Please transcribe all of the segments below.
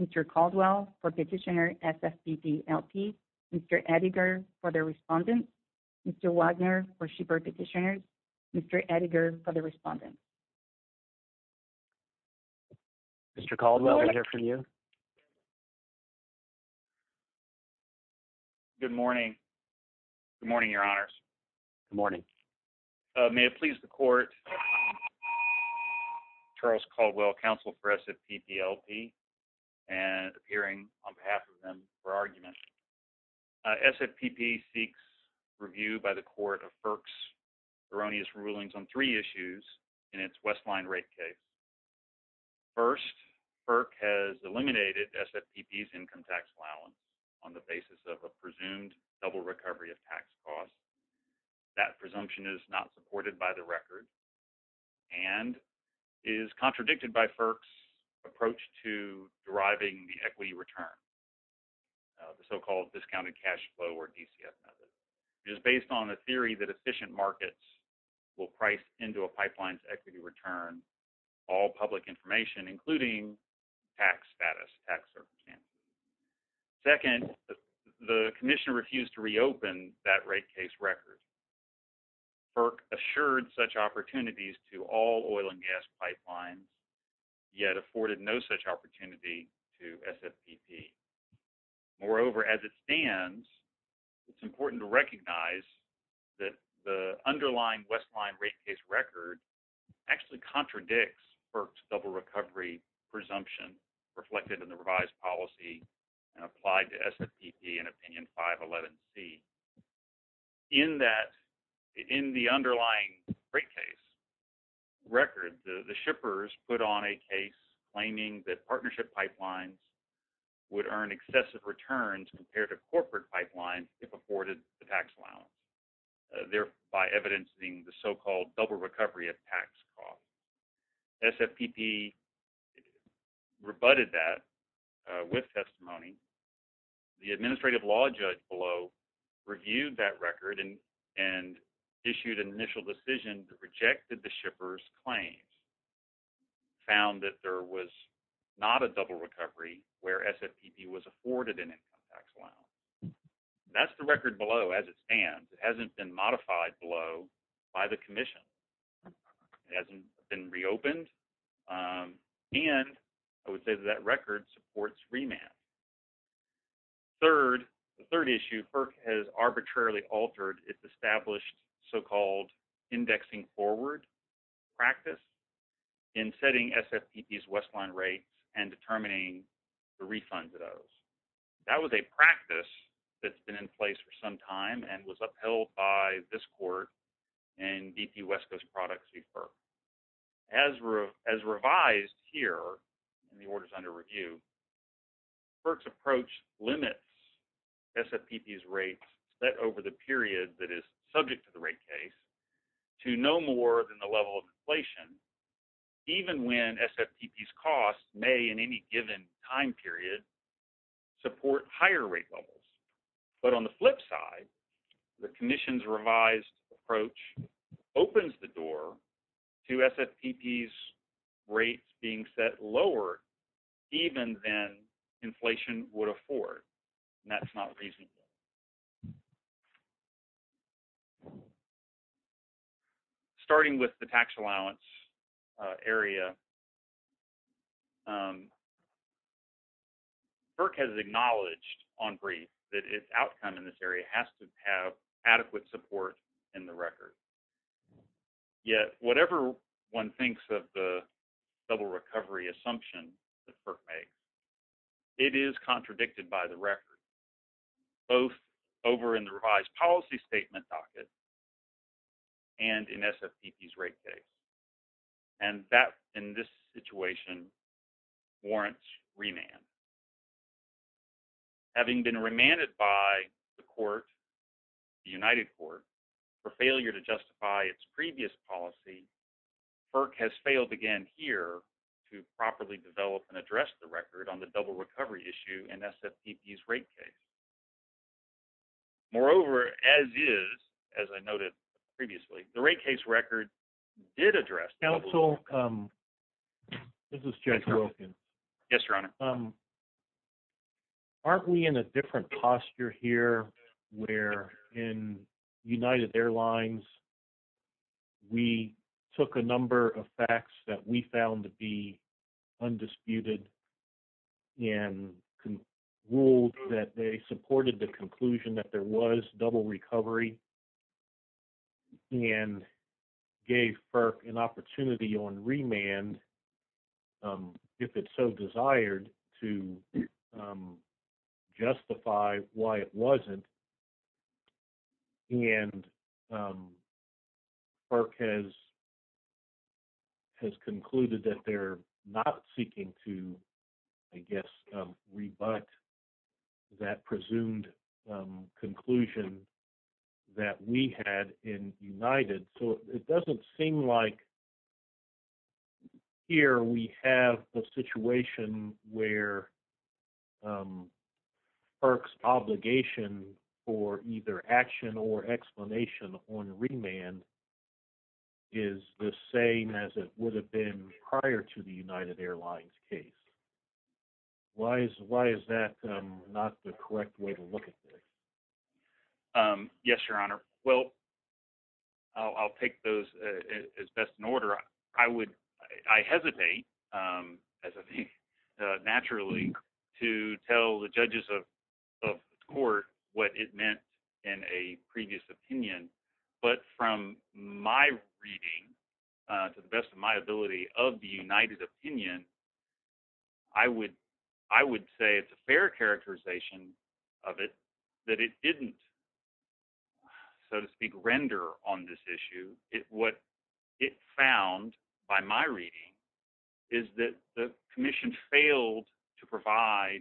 Mr. Caldwell for Petitioner, S.F.P.P. L.P., Mr. Edinger for the Respondent, Mr. Wagner for Schieffer Petitioner, Mr. Edinger for the Respondent. Mr. Caldwell, we're here for you. Good morning. Good morning, Your Honors. Good morning. May it please the Court, Charles Caldwell, Counsel for S.F.P.P. L.P. and appearing on behalf of them for argument. S.F.P.P. seeks review by the Court of FERC's erroneous rulings on three issues in its Westline rate case. First, FERC has eliminated S.F.P.P.'s income tax allowance on the basis of a presumed double recovery of tax costs. That presumption is not supported by the record and is contradicted by FERC's approach to deriving the equity return, the so-called discounted cash flow or DCF method. It is based on the theory that efficient markets will price into a pipeline's equity return all public information, including tax status, tax circumstances. Second, the Commissioner refused to reopen that rate case record. FERC assured such opportunities to all oil and gas pipelines, yet afforded no such opportunity to S.F.P.P. Moreover, as it stands, it's important to recognize that the underlying Westline rate case record actually contradicts FERC's double recovery presumption reflected in the revised policy and applied to S.F.P.P. and Opinion 511C. In the underlying rate case record, the shippers put on a case claiming that partnership pipelines would earn excessive returns compared to corporate pipelines if afforded the tax allowance, thereby evidencing the so-called double recovery of tax costs. S.F.P.P. rebutted that with testimony. The administrative law judge below reviewed that record and issued an initial decision that rejected the shippers' claims, found that there was not a double recovery where S.F.P.P. was afforded an income tax allowance. That's the record below as it stands. It hasn't been modified below by the Commission. It hasn't been reopened, and I would say that that record supports remand. Third, the third issue, FERC has arbitrarily altered its established so-called indexing forward practice in setting S.F.P.P.'s Westline rates and determining the refund to those. That was a practice that's been in place for some time and was upheld by this court in D.P. West Coast Products v. FERC. As revised here, the order is under review, FERC's approach limits S.F.P.P.'s rates over the period that is subject to the rate case to no more than the level of inflation, even when S.F.P.P.'s costs may in any given time period support higher rate levels. But on the flip side, the Commission's revised approach opens the door to S.F.P.P.'s rates being set lower even than inflation would afford, and that's not reasonable. Starting with the tax allowance area, FERC has acknowledged on brief that its outcome in this area has to have adequate support in the record. Yet, whatever one thinks of the double recovery assumption that FERC makes, it is contradicted by the record, both over in the revised policy statement docket and in S.F.P.P.'s rate case. And that, in this situation, warrants remand. Having been remanded by the court, the United Court, for failure to justify its previous policy, FERC has failed again here to properly develop and address the record on the double recovery issue in S.F.P.P.'s rate case. Moreover, as is, as I noted previously, the rate case record did address double recovery. and ruled that they supported the conclusion that there was double recovery and gave FERC an opportunity on remand if it so desired to justify why it wasn't. And FERC has concluded that they're not seeking to, I guess, rebut that presumed conclusion that we had in United. So it doesn't seem like here we have a situation where FERC's obligation for either action or explanation on remand is the same as it would have been prior to the United Airlines case. Why is that not the correct way to look at this? Yes, Your Honor. Well, I'll take those as best in order. I hesitate, as I think, naturally, to tell the judges of the court what it meant in a previous opinion. But from my reading, to the best of my ability, of the United opinion, I would say it's a fair characterization of it that it didn't, so to speak, render on this issue. What it found, by my reading, is that the Commission failed to provide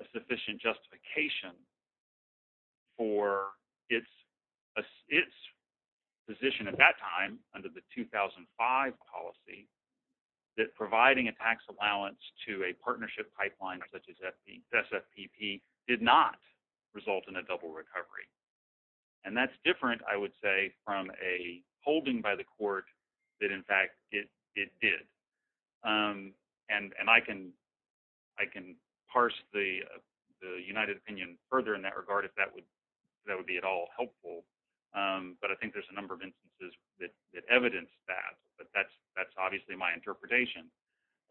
a sufficient justification for its position at that time under the 2005 policy that providing a tax allowance to a partnership pipeline such as SFPP did not result in a double recovery. And that's different, I would say, from a holding by the court that, in fact, it did. And I can parse the United opinion further in that regard if that would be at all helpful. But I think there's a number of instances that evidence that, but that's obviously my interpretation.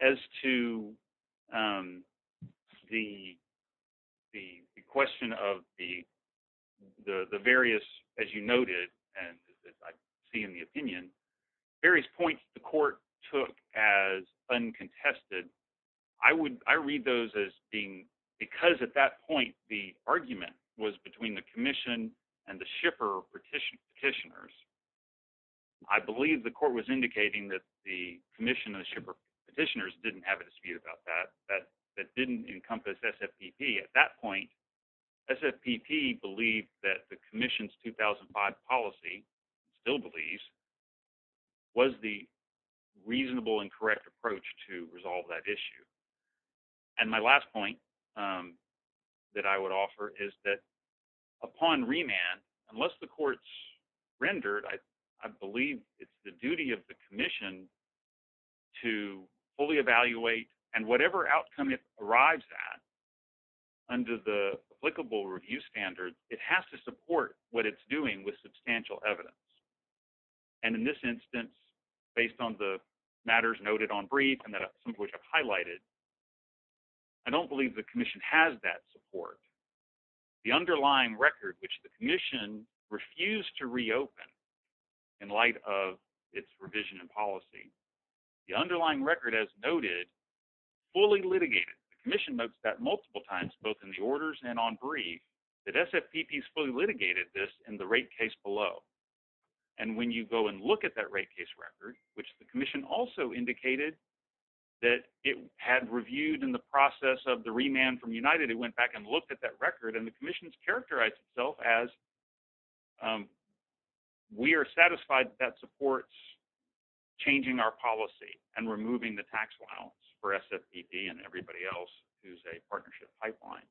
As to the question of the various, as you noted, and as I see in the opinion, various points the court took as uncontested, I would – I read those as being – because at that point the argument was between the Commission and the shipper petitioners, I believe the court was indicating that the Commission and the shipper petitioners didn't have a dispute about that, that didn't encompass SFPP. At that point, SFPP believed that the Commission's 2005 policy, still believes, was the reasonable and correct approach to resolve that issue. And my last point that I would offer is that upon remand, unless the court's rendered, I believe it's the duty of the Commission to fully evaluate and whatever outcome it arrives at under the applicable review standards, it has to support what it's doing with substantial evidence. And in this instance, based on the matters noted on brief and that I've highlighted, I don't believe the Commission has that support. The underlying record, which the Commission refused to reopen in light of its revision and policy, the underlying record, as noted, fully litigated. The Commission notes that multiple times, both in the orders and on brief, that SFPP's fully litigated this in the rate case below. And when you go and look at that rate case record, which the Commission also indicated that it had reviewed in the process of the remand from United, it went back and looked at that record, and the Commission's characterized itself as, we are satisfied that supports changing our policy and removing the tax allowance for SFPP and everybody else who's a partnership pipeline.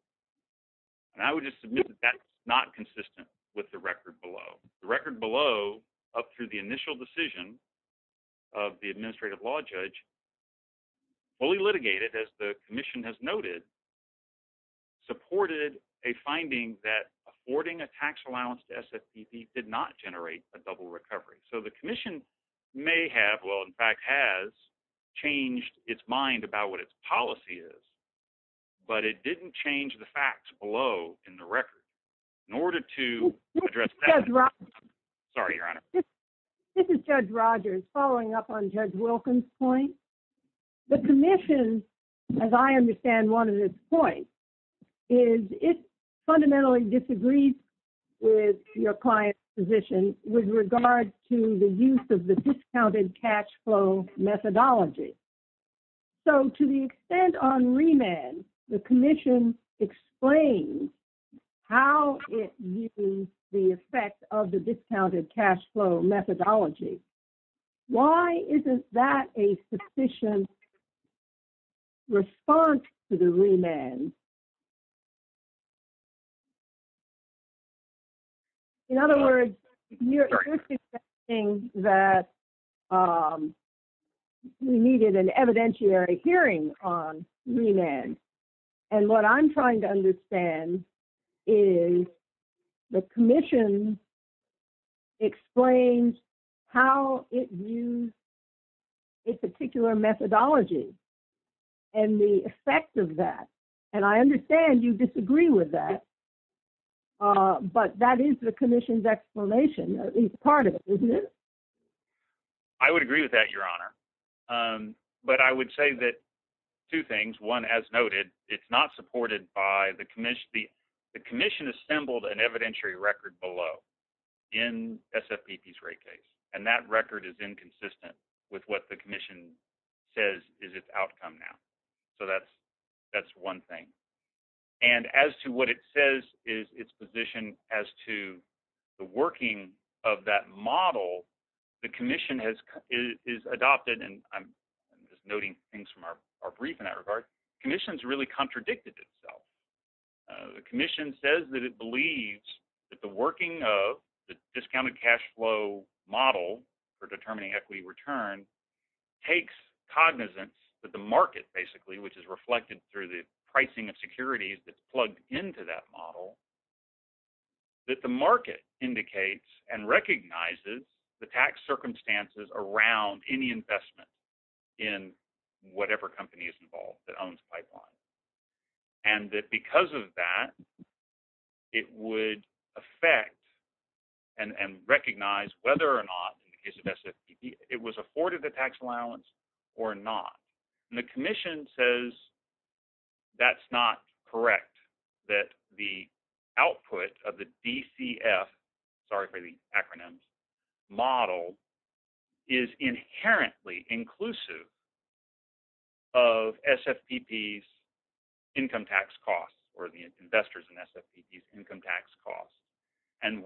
And I would just submit that that's not consistent with the record below. The record below, up through the initial decision of the administrative law judge, fully litigated, as the Commission has noted, supported a finding that affording a tax allowance to SFPP did not generate a double recovery. So the Commission may have, well, in fact, has changed its mind about what its policy is, but it didn't change the facts below in the record. In order to address... Sorry, Your Honor. This is Judge Rogers. Following up on Judge Wilkins' point, the Commission, as I understand one of its points, is it fundamentally disagrees with your client's position with regard to the use of the discounted cash flow methodology. So to the extent on remand, the Commission explains how it views the effect of the discounted cash flow methodology. Why isn't that a sufficient response to the remand? In other words, you're suggesting that we needed an evidentiary hearing on remand. And what I'm trying to understand is the Commission explains how it views a particular methodology and the effect of that. And I understand you disagree with that, but that is the Commission's explanation, at least part of it, isn't it? I would agree with that, Your Honor. But I would say that two things. One, as noted, it's not supported by the Commission. The Commission assembled an evidentiary record below in SFPP's rate case, and that record is inconsistent with what the Commission says is its outcome now. So that's one thing. And as to what it says is its position as to the working of that model, the Commission has adopted, and I'm just noting things from our brief in that regard, the Commission's really contradicted itself. The Commission says that it believes that the working of the discounted cash flow model for determining equity return takes cognizance that the market, basically, which is reflected through the pricing of securities that's plugged into that model, that the market indicates and recognizes the tax circumstances around any investment in whatever company is involved that owns Pipeline. And that because of that, it would affect and recognize whether or not, in the case of SFPP, it was afforded the tax allowance or not. The Commission says that's not correct, that the output of the DCF, sorry for the acronyms, model is inherently inclusive of SFPP's income tax costs or the investors in SFPP's income tax costs. And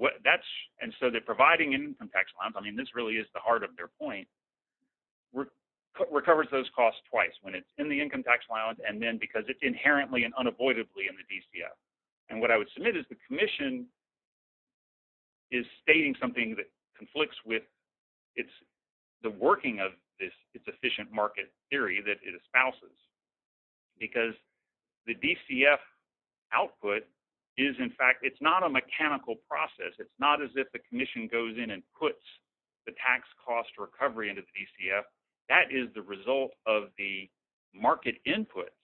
so that providing income tax allowance, I mean, this really is the heart of their point, recovers those costs twice, when it's in the income tax allowance and then because it's inherently and unavoidably in the DCF. And what I would submit is the Commission is stating something that conflicts with the working of this efficient market theory that it espouses, because the DCF output is, in fact, it's not a mechanical process. It's not as if the Commission goes in and puts the tax cost recovery into the DCF. That is the result of the market inputs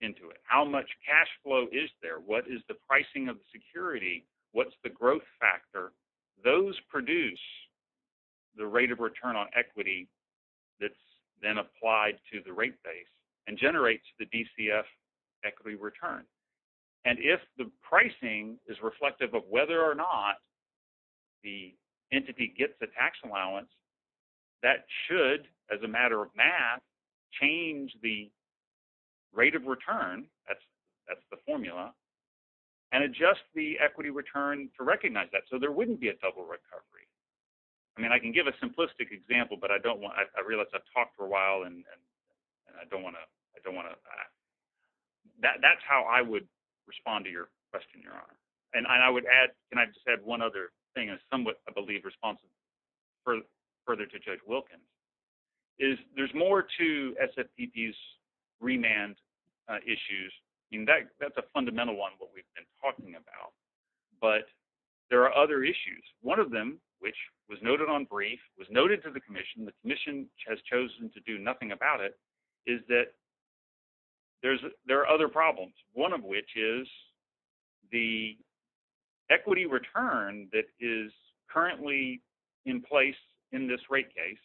into it. How much cash flow is there? What is the pricing of the security? What's the growth factor? Those produce the rate of return on equity that's then applied to the rate base and generates the DCF equity return. And if the pricing is reflective of whether or not the entity gets the tax allowance, that should, as a matter of math, change the rate of return, that's the formula, and adjust the equity return to recognize that. So there wouldn't be a double recovery. I mean, I can give a simplistic example, but I don't want – I realize I've talked for a while, and I don't want to – that's how I would respond to your question, Your Honor. And I would add – and I just add one other thing, and it's somewhat, I believe, responsive, further to Judge Wilkin, is there's more to SFPP's remand issues. I mean, that's a fundamental one, what we've been talking about. But there are other issues. One of them, which was noted on brief, was noted to the commission, the commission has chosen to do nothing about it, is that there are other problems, one of which is the equity return that is currently in place in this rate case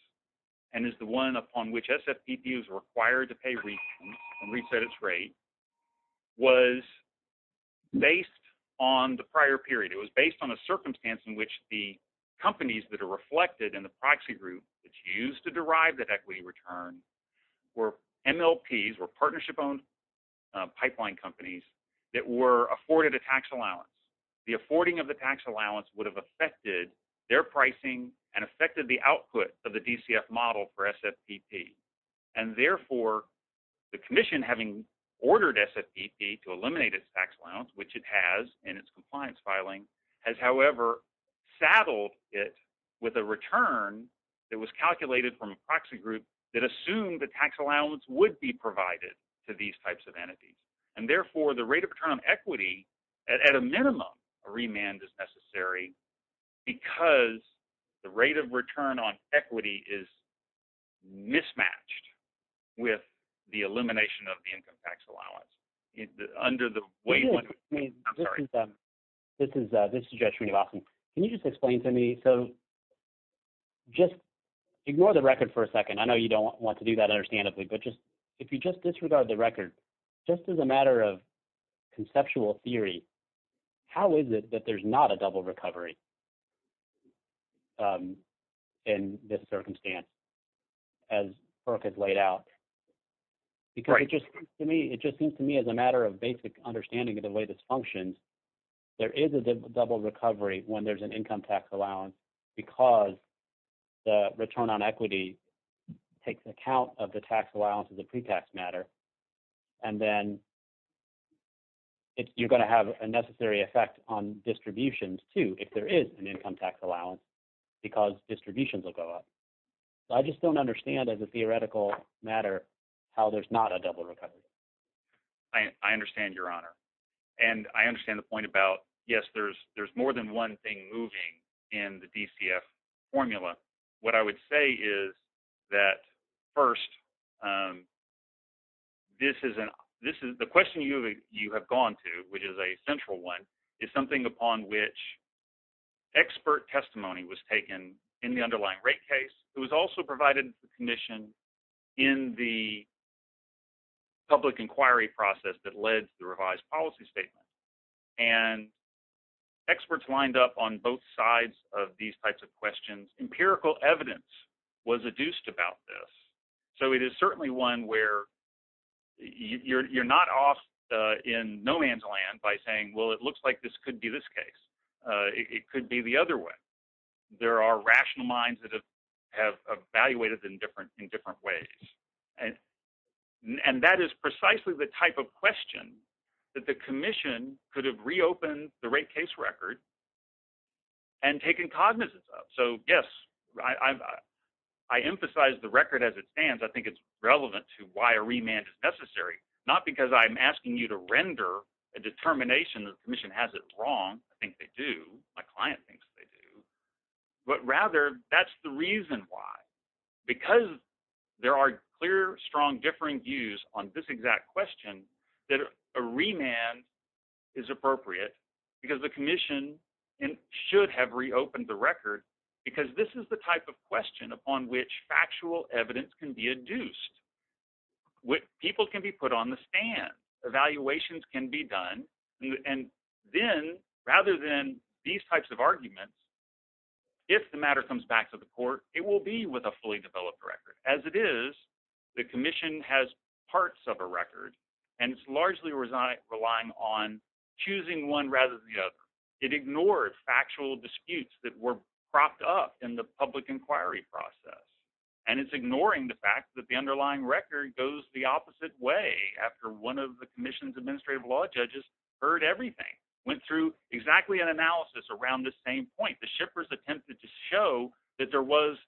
and is the one upon which SFPP is required to pay and reset its rate, was based on the prior period. It was based on a circumstance in which the companies that are reflected in the proxy group that used to derive that equity return were MLPs, were partnership-owned pipeline companies, that were afforded a tax allowance. The affording of the tax allowance would have affected their pricing and affected the output of the DCF model for SFPP. And therefore, the commission, having ordered SFPP to eliminate its tax allowance, which it has in its compliance filing, has, however, saddled it with a return that was calculated from a proxy group that assumed the tax allowance would be provided to these types of entities. And therefore, the rate of return on equity, at a minimum, a remand is necessary because the rate of return on equity is mismatched with the elimination of the income tax allowance under the wave – I'm sorry. Can you just explain to me – so just ignore the record for a second. I know you don't want to do that understandably, but just – if you just disregard the record, just as a matter of conceptual theory, how is it that there's not a double recovery in this circumstance, as Burke has laid out? Because it just seems to me, as a matter of basic understanding of the way this functions, there is a double recovery when there's an income tax allowance because the return on equity takes account of the tax allowance as a pre-tax matter. And then you're going to have a necessary effect on distributions, too, if there is an income tax allowance because distributions will go up. So I just don't understand, as a theoretical matter, how there's not a double recovery. I understand, Your Honor. And I understand the point about, yes, there's more than one thing moving in the DCF formula. What I would say is that, first, this is – the question you have gone to, which is a central one, is something upon which expert testimony was taken in the underlying rate case. It was also provided to the commission in the public inquiry process that led to the revised policy statement. And experts lined up on both sides of these types of questions. Empirical evidence was adduced about this. So it is certainly one where you're not off in no man's land by saying, well, it looks like this could be this case. It could be the other way. There are rational minds that have evaluated it in different ways. And that is precisely the type of question that the commission could have reopened the rate case record and taken cognizance of. So, yes, I emphasize the record as it stands. I think it's relevant to why a remand is necessary. Not because I'm asking you to render a determination that the commission has it wrong. I think they do. My client thinks they do. But rather, that's the reason why. Because there are clear, strong, differing views on this exact question, that a remand is appropriate because the commission should have reopened the record because this is the type of question upon which factual evidence can be adduced. People can be put on the stand. Evaluations can be done. And then, rather than these types of arguments, if the matter comes back to the court, it will be with a fully developed record. As it is, the commission has parts of a record, and it's largely relying on choosing one rather than the other. It ignores factual disputes that were propped up in the public inquiry process. And it's ignoring the fact that the underlying record goes the opposite way after one of the commission's administrative law judges heard everything, went through exactly an analysis around this same point. The shippers attempted to show that there was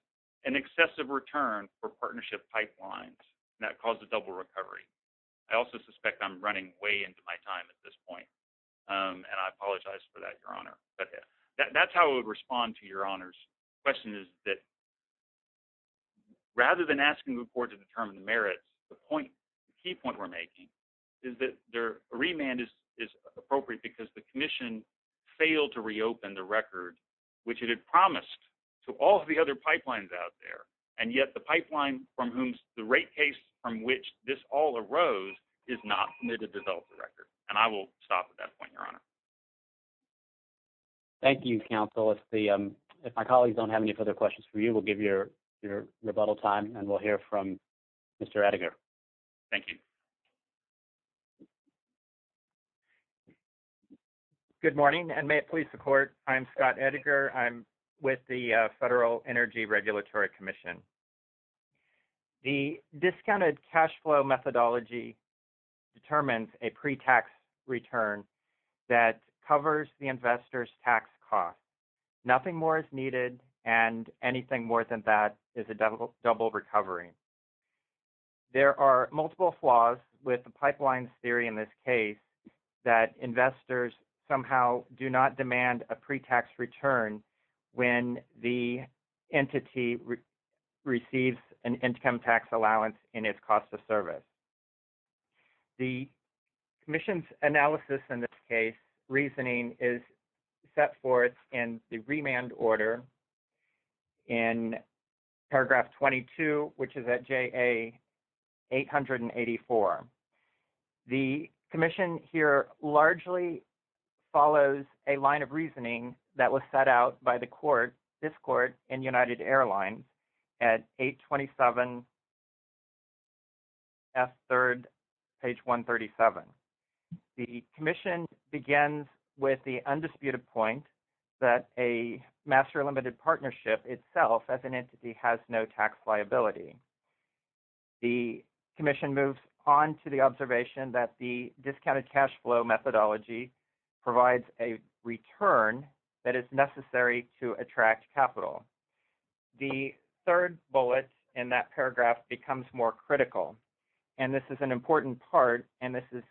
an excessive return for partnership pipelines, and that caused a double recovery. I also suspect I'm running way into my time at this point. And I apologize for that, Your Honor. That's how I would respond to Your Honor's question, is that rather than asking the court to determine the merits, the key point we're making is that a remand is appropriate because the commission failed to reopen the record. Which it had promised to all of the other pipelines out there. And yet, the pipeline from whom the rate case from which this all arose is not permitted to develop the record. And I will stop at that point, Your Honor. Thank you, counsel. If my colleagues don't have any further questions for you, we'll give you your rebuttal time, and we'll hear from Mr. Edgar. Thank you. Good morning, and may it please support. I'm Scott Edgar. I'm with the Federal Energy Regulatory Commission. The discounted cash flow methodology determines a pre-tax return that covers the investor's tax costs. Nothing more is needed, and anything more than that is a double recovery. There are multiple flaws with the pipeline theory in this case, that investors somehow do not demand a pre-tax return when the entity receives an income tax allowance in its cost of service. The commission's analysis in this case, reasoning is set forth in the remand order in paragraph 22, which is at JA-884. The commission here largely follows a line of reasoning that was set out by the court, this court, and United Airlines at 827F3, page 137. The commission begins with the undisputed point that a master limited partnership itself as an entity has no tax liability. The commission moves on to the observation that the discounted cash flow methodology provides a return that is necessary to attract capital. The third bullet in that paragraph becomes more critical, and this is an important part, and this is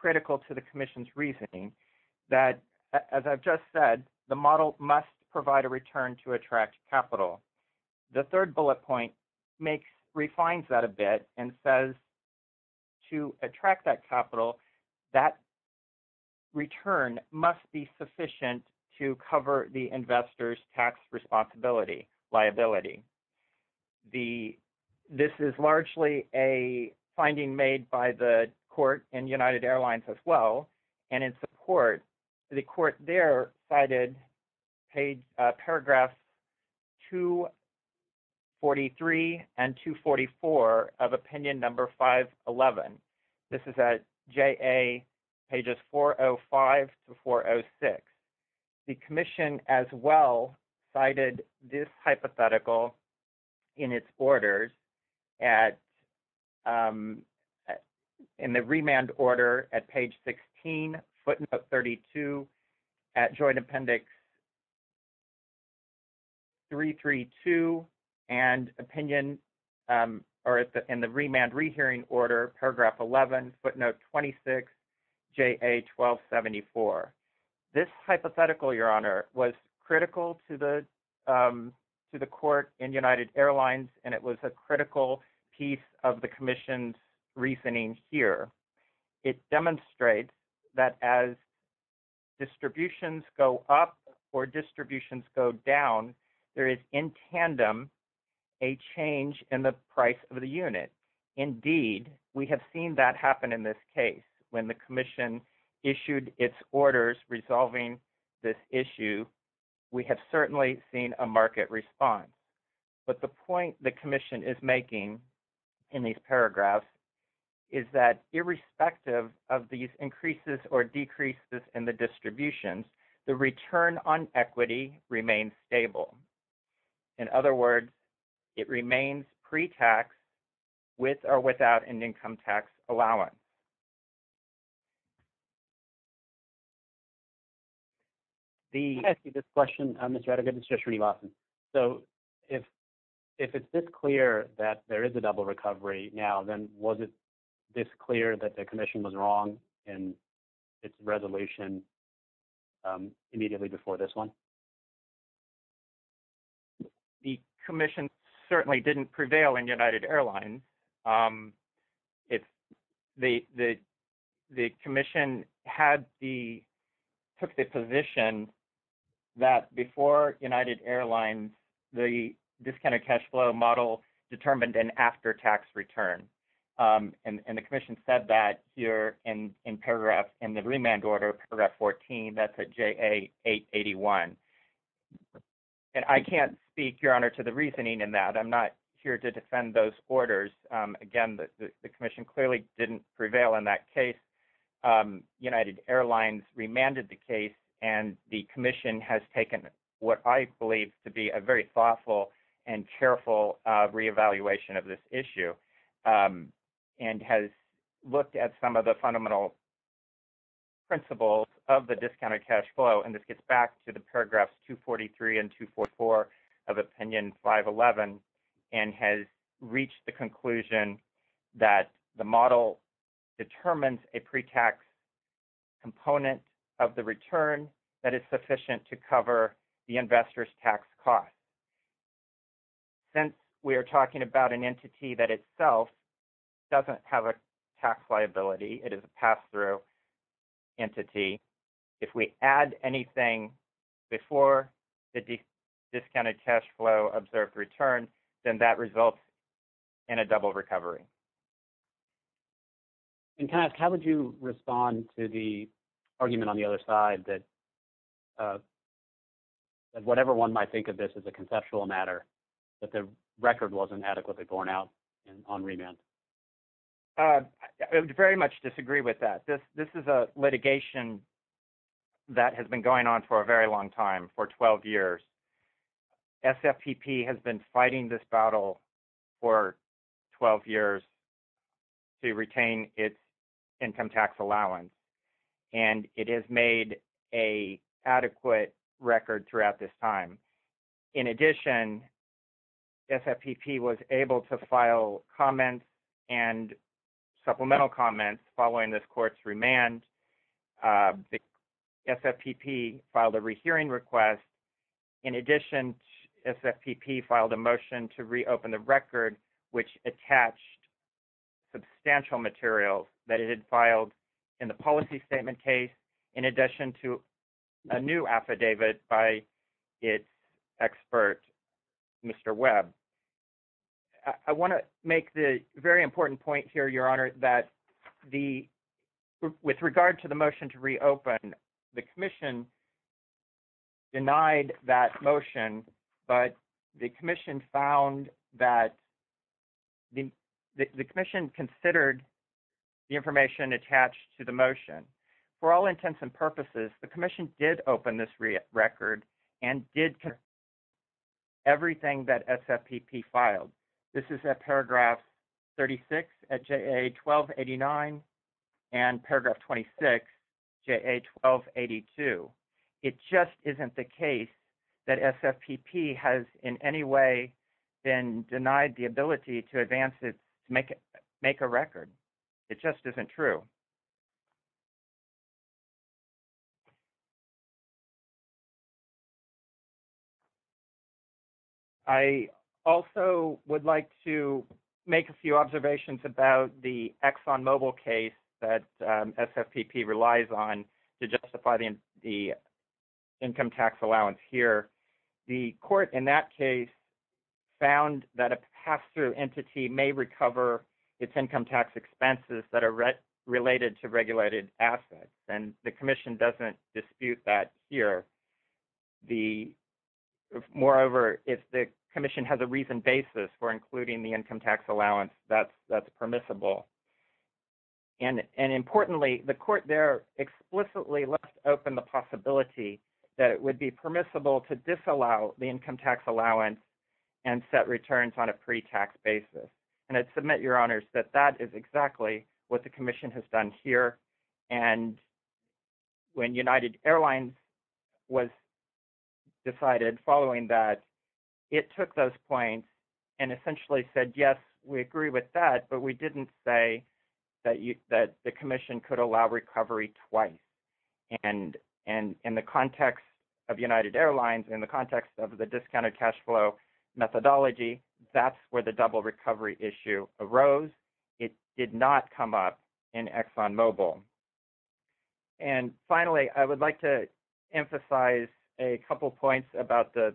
critical to the commission's reasoning that, as I've just said, the model must provide a return to attract capital. The third bullet point refines that a bit and says to attract that capital, that return must be sufficient to cover the investor's tax responsibility liability. This is largely a finding made by the court and United Airlines as well, and in support, the court there cited paragraph 243 and 244 of opinion number 511. This is at JA pages 405 to 406. The commission as well cited this hypothetical in its orders at, in the remand order at page 16, footnote 32, at joint appendix 332, and opinion, or in the remand rehearing order, paragraph 11, footnote 26, JA 1274. This hypothetical, Your Honor, was critical to the court and United Airlines, and it was a critical piece of the commission's reasoning here. It demonstrates that as distributions go up or distributions go down, there is, in tandem, a change in the price of the unit. Indeed, we have seen that happen in this case. When the commission issued its orders resolving this issue, we have certainly seen a market response. But the point the commission is making in these paragraphs is that irrespective of these increases or decreases in the distributions, the return on equity remains stable. In other words, it remains pre-tax with or without an income tax allowance. The question, Mr. Attagib, it's just for you, Lawson. So if it's this clear that there is a double recovery now, then was it this clear that the commission was wrong in its resolution immediately before this one? The commission certainly didn't prevail in United Airlines. The commission took the position that before United Airlines, this kind of cash flow model determined an after-tax return. And the commission said that here in the remand order, paragraph 14, that's at JA 881. And I can't speak, Your Honor, to the reasoning in that. I'm not here to defend those orders. Again, the commission clearly didn't prevail in that case. United Airlines remanded the case, and the commission has taken what I believe to be a very thoughtful and careful reevaluation of this issue and has looked at some of the fundamental principles of the discounted cash flow. And this gets back to the paragraphs 243 and 244 of Opinion 511 and has reached the conclusion that the model determines a pre-tax component of the return that is sufficient to cover the investor's tax costs. Since we are talking about an entity that itself doesn't have a tax liability, it is a pass-through entity, if we add anything before the discounted cash flow observed return, then that results in a double recovery. And can I ask, how would you respond to the argument on the other side that whatever one might think of this as a conceptual matter, that the record wasn't adequately borne out on remand? I would very much disagree with that. This is a litigation that has been going on for a very long time, for 12 years. SFPP has been fighting this battle for 12 years to retain its income tax allowance, and it has made an adequate record throughout this time. In addition, SFPP was able to file comments and supplemental comments following this court's remand. SFPP filed a rehearing request. In addition, SFPP filed a motion to reopen the record, which attached substantial materials that it had filed in the policy statement case, in addition to a new affidavit by its expert, Mr. Webb. I want to make the very important point here, Your Honor, that with regard to the motion to reopen, the Commission denied that motion, but the Commission considered the information attached to the motion. For all intents and purposes, the Commission did open this record and did consider everything that SFPP filed. This is at paragraph 36 at JA1289 and paragraph 26, JA1282. It just isn't the case that SFPP has in any way been denied the ability to advance it, to make a record. It just isn't true. I also would like to make a few observations about the ExxonMobil case that SFPP relies on to justify the income tax allowance here. The court in that case found that a pass-through entity may recover its income tax expenses that are related to regulated assets, and the Commission doesn't dispute that here. Moreover, if the Commission has a reasoned basis for including the income tax allowance, that's permissible. Importantly, the court there explicitly left open the possibility that it would be permissible to disallow the income tax allowance and set returns on a pre-tax basis. I'd submit, Your Honors, that that is exactly what the Commission has done here. When United Airlines was decided following that, it took those points and essentially said, yes, we agree with that, but we didn't say that the Commission could allow recovery twice. In the context of United Airlines, in the context of the discounted cash flow methodology, that's where the double recovery issue arose. It did not come up in ExxonMobil. Finally, I would like to emphasize a couple points about the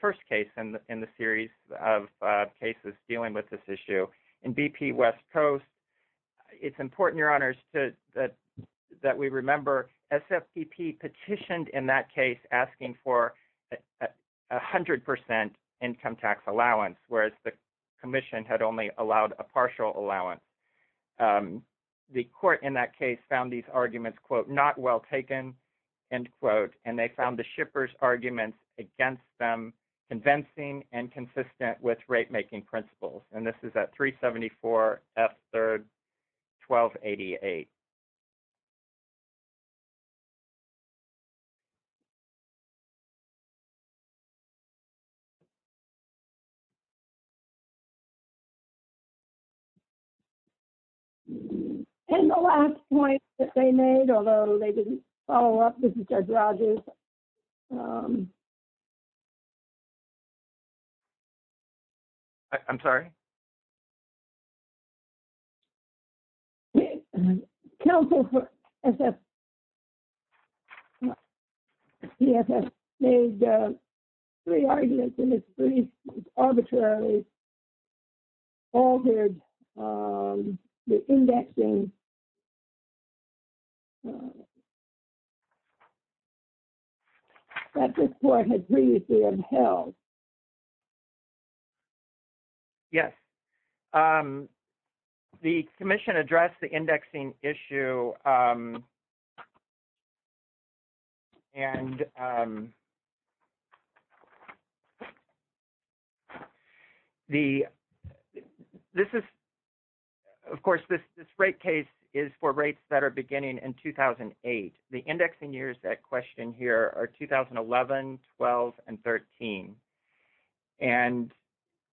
first case in the series of cases dealing with this issue. In BP West Coast, it's important, Your Honors, that we remember SFPP petitioned in that case asking for 100% income tax allowance, whereas the Commission had only allowed a partial allowance. The court in that case found these arguments, quote, not well taken, end quote, and they found the shippers' arguments against them convincing and consistent with rate-making principles, and this is at 374 F. 3rd, 1288. And the last point that they made, although they didn't follow up, this is Judge Rogers. I'm sorry? Counsel for SFPP made three arguments, and it's pretty arbitrary, altered the indexing that this court had previously held. Yes, the Commission addressed the indexing issue, and this is, of course, this rate case is for rates that are beginning in 2008. The indexing years that question here are 2011, 12, and 13, and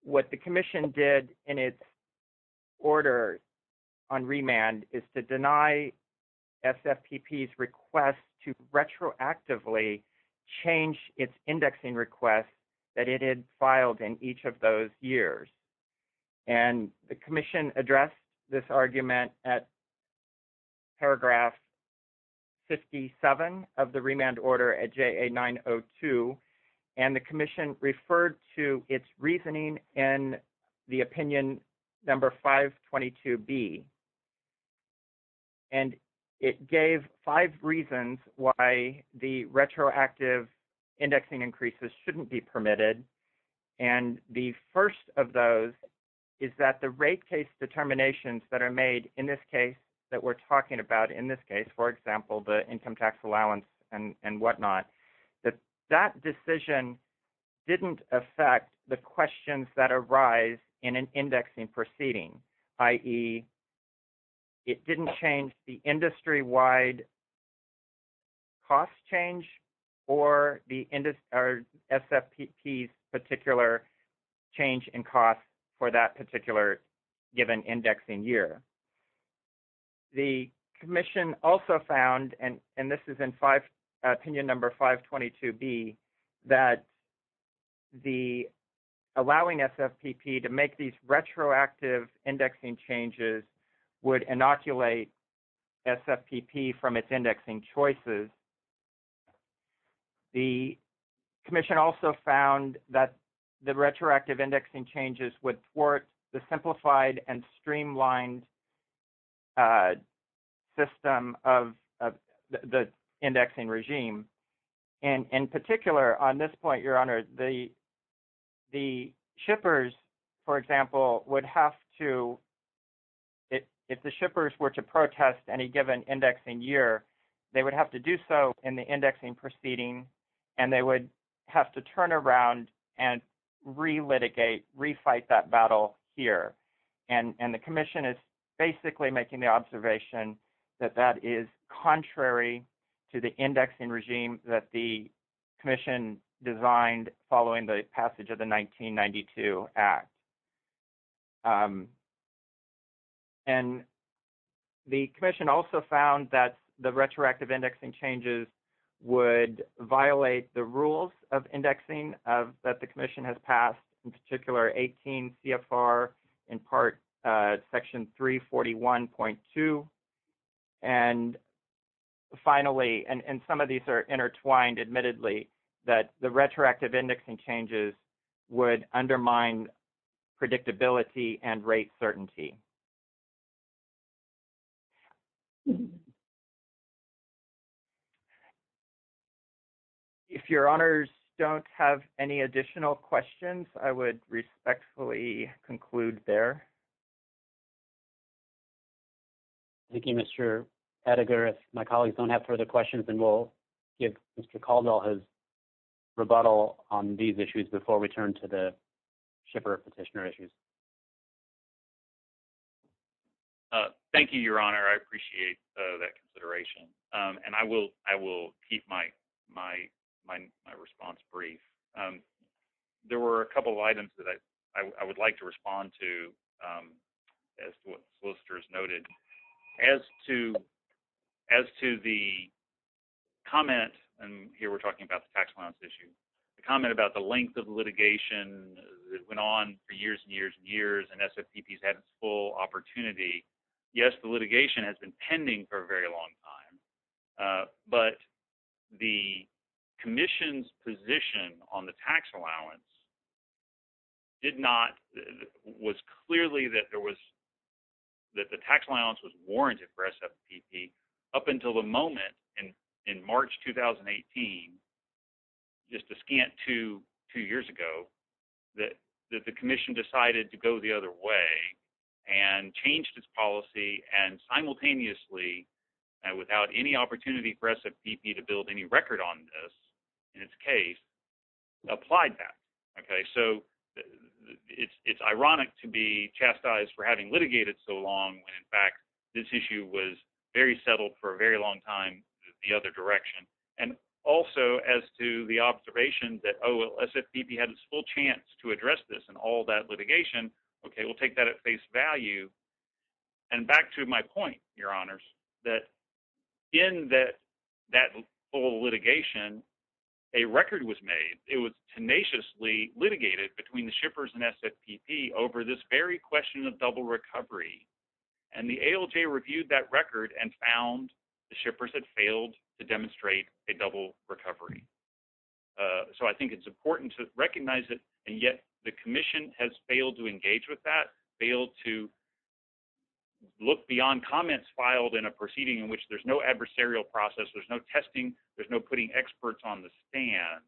what the Commission did in its order on remand is to deny SFPP's request to retroactively change its indexing request that it had filed in each of those years. And the Commission addressed this argument at paragraph 57 of the remand order at JA 902, and the Commission referred to its reasoning in the opinion number 522B. And it gave five reasons why the retroactive indexing increases shouldn't be permitted, and the first of those is that the rate case determinations that are made in this case, that we're talking about in this case, for example, the income tax allowance and whatnot, that that decision didn't affect the questions that arise in an indexing proceeding, i.e., it didn't change the industry-wide cost change or SFPP's particular change in cost for that particular given indexing year. The Commission also found, and this is in opinion number 522B, that allowing SFPP to make these retroactive indexing changes would inoculate SFPP from its indexing choices. The Commission also found that the retroactive indexing changes would thwart the simplified and streamlined system of the indexing regime. In particular, on this point, Your Honor, the shippers, for example, would have to, if the shippers were to protest any given indexing year, they would have to do so in the indexing proceeding, and they would have to turn around and relitigate, refight that battle here. The Commission is basically making the observation that that is contrary to the indexing regime that the Commission designed following the passage of the 1992 Act. And the Commission also found that the retroactive indexing changes would violate the rules of indexing that the Commission has passed, in particular, 18 CFR, in part, Section 341.2. And finally, and some of these are intertwined, admittedly, that the retroactive indexing changes would undermine predictability and rate certainty. If Your Honors don't have any additional questions, I would respectfully conclude there. Thank you, Mr. Edgar. If my colleagues don't have further questions, then we'll give Mr. Caldwell his rebuttal on these issues before we turn to the shipper petitioner issues. Thank you, Your Honor. I appreciate that consideration, and I will keep my response brief. There were a couple of items that I would like to respond to, as solicitors noted. As to the comment, and here we're talking about the tax allowance issue, the comment about the length of litigation that went on for years and years and years, and SFPP's had its full opportunity. Yes, the litigation has been pending for a very long time, but the Commission's position on the tax allowance did not, was clearly that there was, that the tax allowance was warranted for SFPP up until the moment in March 2018, just a scant two years ago, that the Commission decided to go the other way and changed its policy and simultaneously, and without any opportunity for SFPP to build any record on this, in this case, applied that. It's ironic to be chastised for having litigated so long when, in fact, this issue was very settled for a very long time the other direction. Also, as to the observation that SFPP had its full chance to address this and all that litigation, we'll take that at face value. And back to my point, Your Honors, that in that whole litigation, a record was made. It was tenaciously litigated between the shippers and SFPP over this very question of double recovery. And the ALJ reviewed that record and found the shippers had failed to demonstrate a double recovery. So I think it's important to recognize that, and yet, the Commission has failed to engage with that, failed to look beyond comments filed in a proceeding in which there's no adversarial process, there's no testing, there's no putting experts on the stand,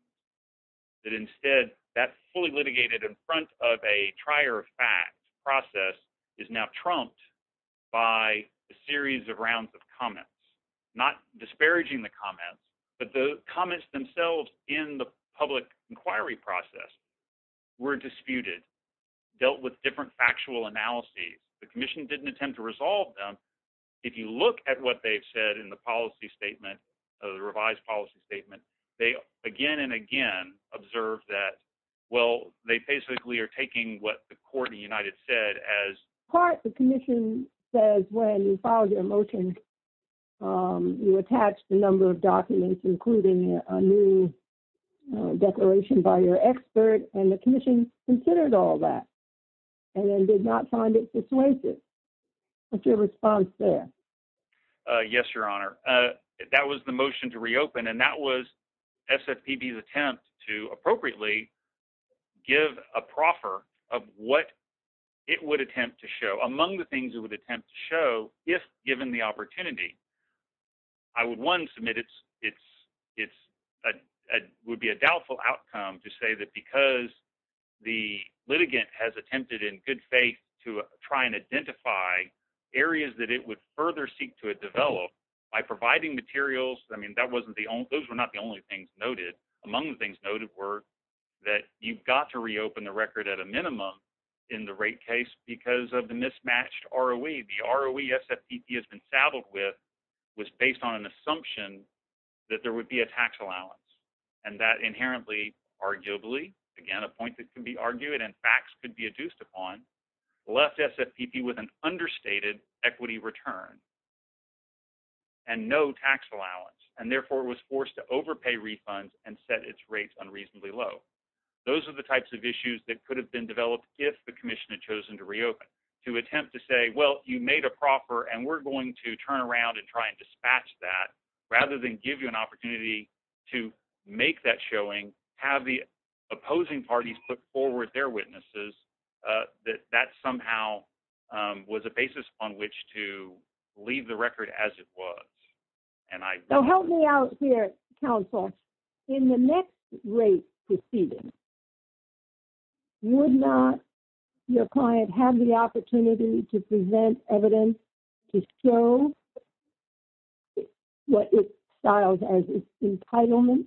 that instead, that fully litigated in front of a trier of facts process is now trumped by a series of rounds of comments, not disparaging the comments, but the comments themselves in the public inquiry process were disputed, dealt with different factual analyses. The Commission didn't attempt to resolve them. If you look at what they've said in the policy statement, the revised policy statement, they again and again observed that, well, they basically are taking what the Court of the United said as part. But the Commission says when you file your motion, you attach the number of documents, including a new declaration by your expert, and the Commission considered all that and then did not find it persuasive. What's your response there? Yes, Your Honor. That was the motion to reopen, and that was SFPD's attempt to appropriately give a proffer of what it would attempt to show. Among the things it would attempt to show, if given the opportunity, I would, one, submit it would be a doubtful outcome to say that because the litigant has attempted in good faith to try and identify areas that it would further seek to develop by providing materials. I mean, that wasn't the only, those were not the only things noted. Among the things noted were that you've got to reopen the record at a minimum in the rate case because of the mismatched ROE. The ROE SFPD has been saddled with was based on an assumption that there would be a tax allowance, and that inherently, arguably, again, a point that can be argued and facts could be adduced upon, left SFPD with an understated equity return and no tax allowance, and therefore was forced to overpay refunds and set its rates unreasonably low. Those are the types of issues that could have been developed if the commission had chosen to reopen, to attempt to say, well, you made a proffer, and we're going to turn around and try and dispatch that rather than give you an opportunity to make that showing, have the opposing parties put forward their witnesses, that that somehow was a basis on which to leave the record as it was. So help me out here, counsel. In the next rate proceeding, would not your client have the opportunity to present evidence to show what it styles as its entitlement?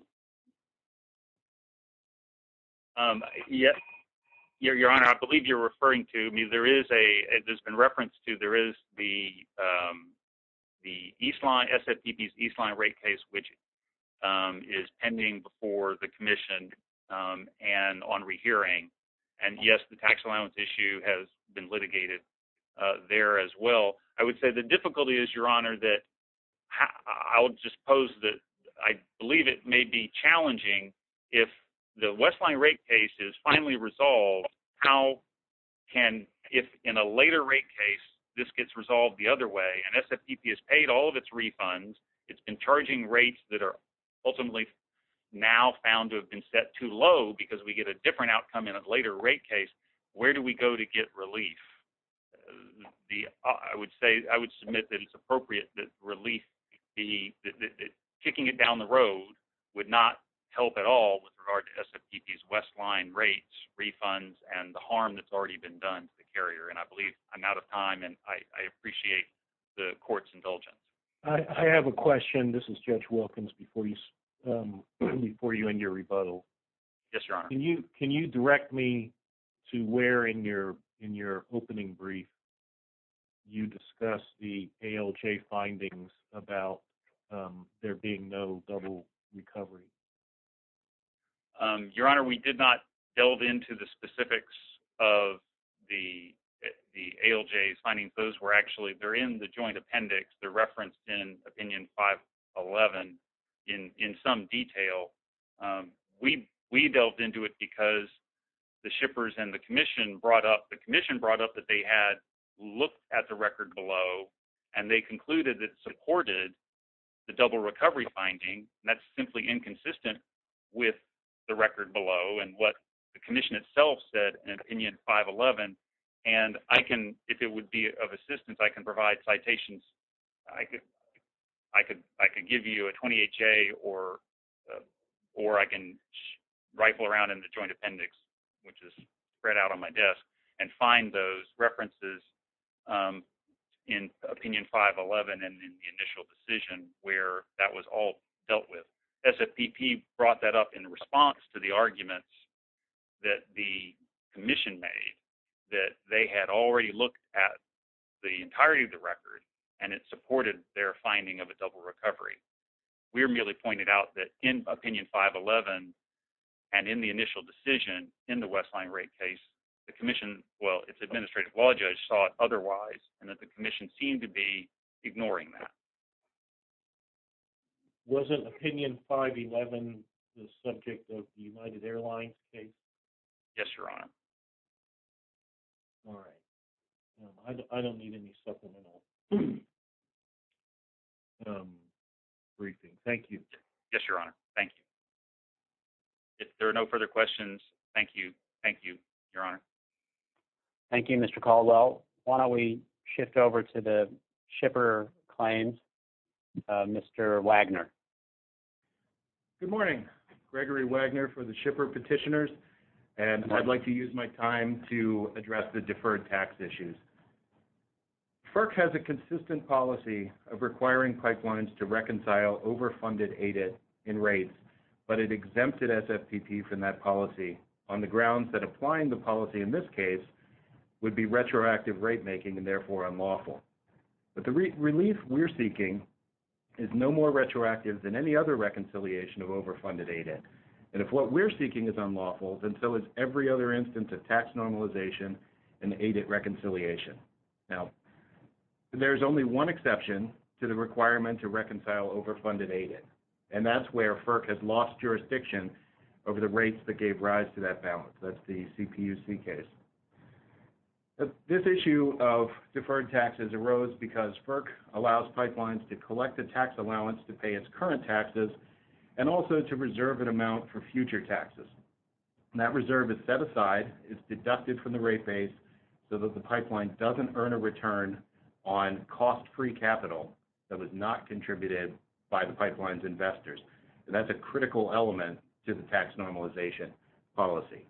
Yes, your honor. I believe you're referring to me. There is a there's been reference to there is the, the East line SFPD East line rate case, which is pending before the commission and on rehearing. And yes, the tax allowance issue has been litigated there as well. I would say the difficulty is your honor that I'll just pose that I believe it may be challenging if the Westline rate case is finally resolved. How can, if in a later rate case, this gets resolved the other way, and SFPD has paid all of its refunds, it's been charging rates that are ultimately now found to have been set too low because we get a different outcome in a later rate case, where do we go to get relief? The, I would say, I would submit that it's appropriate that relief the kicking it down the road would not help at all with regard to SFPD Westline rates, refunds and the harm that's already been done to the carrier. And I believe I'm out of time and I appreciate the court's indulgence. I have a question. This is judge Wilkins before you before you in your rebuttal. Yes, your honor. Can you can you direct me to where in your, in your opening brief. You discuss the findings about there being no recovery. Your honor, we did not delve into the specifics of the, the ALJs finding those were actually there in the joint appendix the reference in opinion 511 in, in some detail. We, we delved into it because the shippers and the commission brought up the commission brought up that they had looked at the record below and they concluded that supported the double recovery finding that's simply inconsistent with the record below. And what the commission itself said in opinion 511, and I can, if it would be of assistance, I can provide citations. I could, I could, I could give you a twenty H. A, or, or I can rifle around in the joint appendix, which is spread out on my desk and find those references in opinion 511. And then in the initial decision, where that was all dealt with as a BP brought that up in response to the arguments that the commission may that they had already looked at the entirety of the record and it supported their finding of a double recovery. We're merely pointed out that in opinion 511, and in the initial decision in the Westline rate case, the commission, well, it's administrative law judge thought otherwise and that the commission seemed to be ignoring that. Wasn't opinion 511 the subject of the United Airlines case? Yes, your honor. All right, I don't need any supplemental briefing. Thank you. Yes, your honor. Thank you. If there are no further questions, thank you. Thank you. Your honor. Thank you. Mr. call. Well, why don't we shift over to the shipper claims? Mr. Wagner. Good morning, Gregory Wagner for the shipper petitioners and I'd like to use my time to address the deferred tax issues. Kirk has a consistent policy of requiring pipelines to reconcile overfunded aided in rates, but it exempted from that policy on the grounds that applying the policy in this case would be retroactive rate making and therefore unlawful. But the relief we're seeking is no more retroactive than any other reconciliation of overfunded aided. And if what we're seeking is unlawful, then so is every other instance of tax normalization and aided reconciliation. Now, there's only one exception to the requirement to reconcile overfunded aided. And that's where FERC has lost jurisdiction over the rates that gave rise to that balance. That's the CPC case. This issue of deferred taxes arose because FERC allows pipelines to collect the tax allowance to pay its current taxes and also to reserve an amount for future taxes. That reserve is set aside, is deducted from the rate base so that the pipeline doesn't earn a return on cost-free capital that was not contributed by the pipeline's investors. And that's a critical element to the tax normalization policy.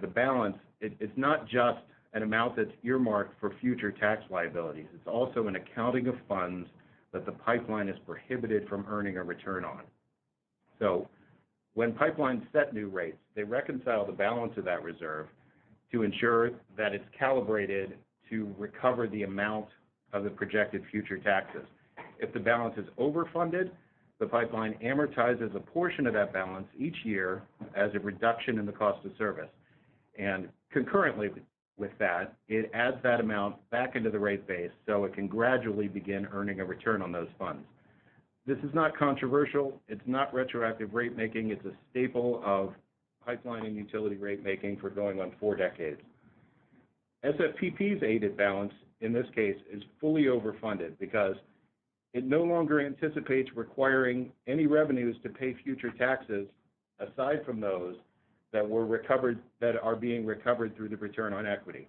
The balance, it's not just an amount that's earmarked for future tax liabilities. It's also an accounting of funds that the pipeline is prohibited from earning a return on. So when pipelines set new rates, they reconcile the balance of that reserve to ensure that it's calibrated to recover the amount of the projected future taxes. If the balance is overfunded, the pipeline amortizes a portion of that balance each year as a reduction in the cost of service. And concurrently with that, it adds that amount back into the rate base so it can gradually begin earning a return on those funds. This is not controversial. It's not retroactive rate-making. It's a staple of pipeline and utility rate-making for going on four decades. SFPP's aided balance, in this case, is fully overfunded because it no longer anticipates requiring any revenues to pay future taxes aside from those that are being recovered through the return on equity.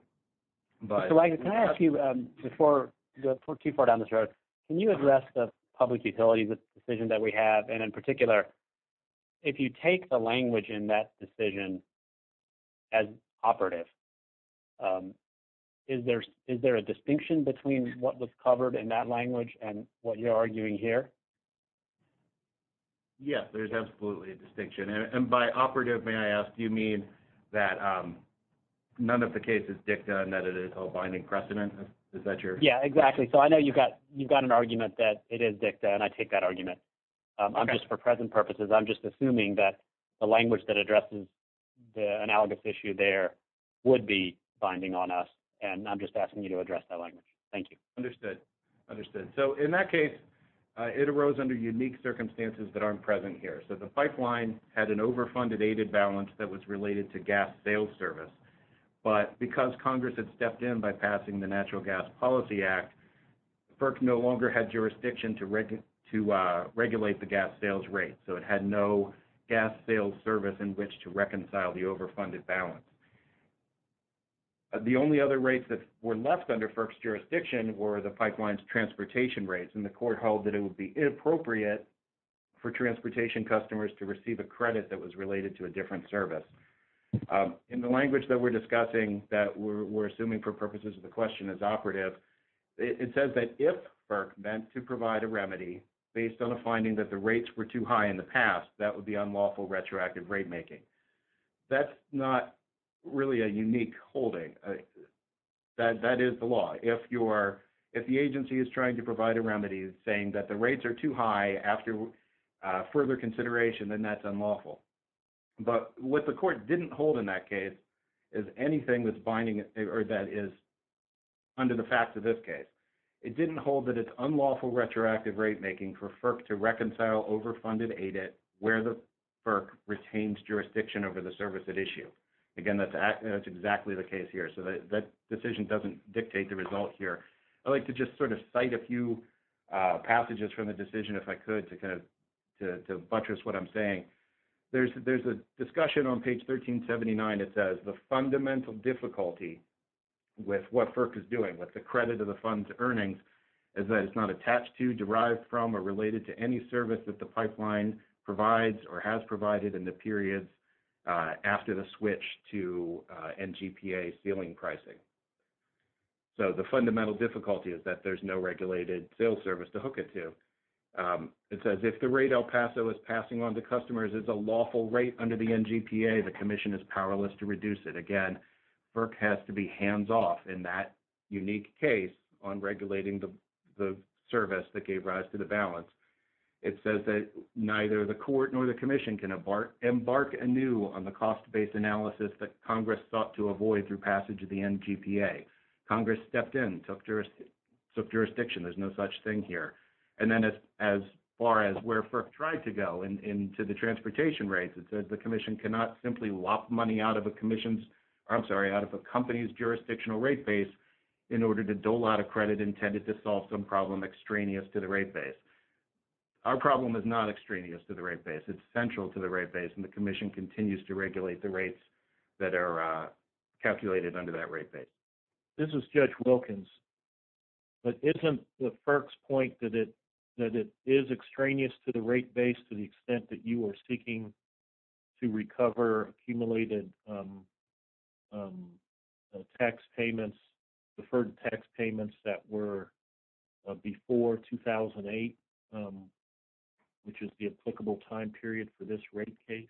Can I ask you, before we go too far down the road, can you address the public utility decision that we have, and in particular, if you take the language in that decision as operative, is there a distinction between what was covered in that language and what you're arguing here? Yes, there's absolutely a distinction. And by operative, may I ask, do you mean that none of the case is DICTA and that it is a binding precedent? Yeah, exactly. So I know you've got an argument that it is DICTA, and I take that argument. Just for present purposes, I'm just assuming that the language that addresses the analogous issue there would be binding on us, and I'm just asking you to address that language. Thank you. Understood. So in that case, it arose under unique circumstances that aren't present here. So the pipeline had an overfunded aided balance that was related to gas sales service, but because Congress had stepped in by passing the Natural Gas Policy Act, FERC no longer had jurisdiction to regulate the gas sales rate, so it had no gas sales service in which to reconcile the overfunded balance. The only other rates that were left under FERC's jurisdiction were the pipeline's transportation rates, and the court held that it would be inappropriate for transportation customers to receive a credit that was related to a different service. In the language that we're discussing that we're assuming for purposes of the question is operative, it says that if FERC meant to provide a remedy based on a finding that the rates were too high in the past, that would be unlawful retroactive rate making. That's not really a unique holding. That is the law. If the agency is trying to provide a remedy saying that the rates are too high after further consideration, then that's unlawful. But what the court didn't hold in that case is anything that's binding or that is under the facts of this case. It didn't hold that it's unlawful retroactive rate making for FERC to reconcile overfunded aided where the FERC retains jurisdiction over the service at issue. Again, that's exactly the case here. So that decision doesn't dictate the results here. I'd like to just sort of cite a few passages from the decision if I could to kind of buttress what I'm saying. There's a discussion on page 1379 that says the fundamental difficulty with what FERC is doing with the credit of the fund's earnings is that it's not attached to, derived from, or related to any service that the pipeline provides or has provided in the period after the switch to NGPA ceiling pricing. So the fundamental difficulty is that there's no regulated sales service to hook it to. It says if the rate El Paso is passing on to customers is a lawful rate under the NGPA, the commission is powerless to reduce it. Again, FERC has to be hands-off in that unique case on regulating the service that gave rise to the balance. It says that neither the court nor the commission can embark anew on the cost-based analysis that Congress sought to avoid through passage of the NGPA. Congress stepped in, took jurisdiction. There's no such thing here. And then as far as where FERC tried to go into the transportation rates, it said the commission cannot simply lop money out of a commission's, I'm sorry, out of a company's jurisdictional rate base in order to dole out a credit intended to solve some problem extraneous to the rate base. Our problem is not extraneous to the rate base. It's central to the rate base, and the commission continues to regulate the rates that are calculated under that rate base. This is Judge Wilkins. But isn't the FERC's point that it is extraneous to the rate base to the extent that you are seeking to recover accumulated tax payments, deferred tax payments that were before 2008, which is the applicable time period for this rate case?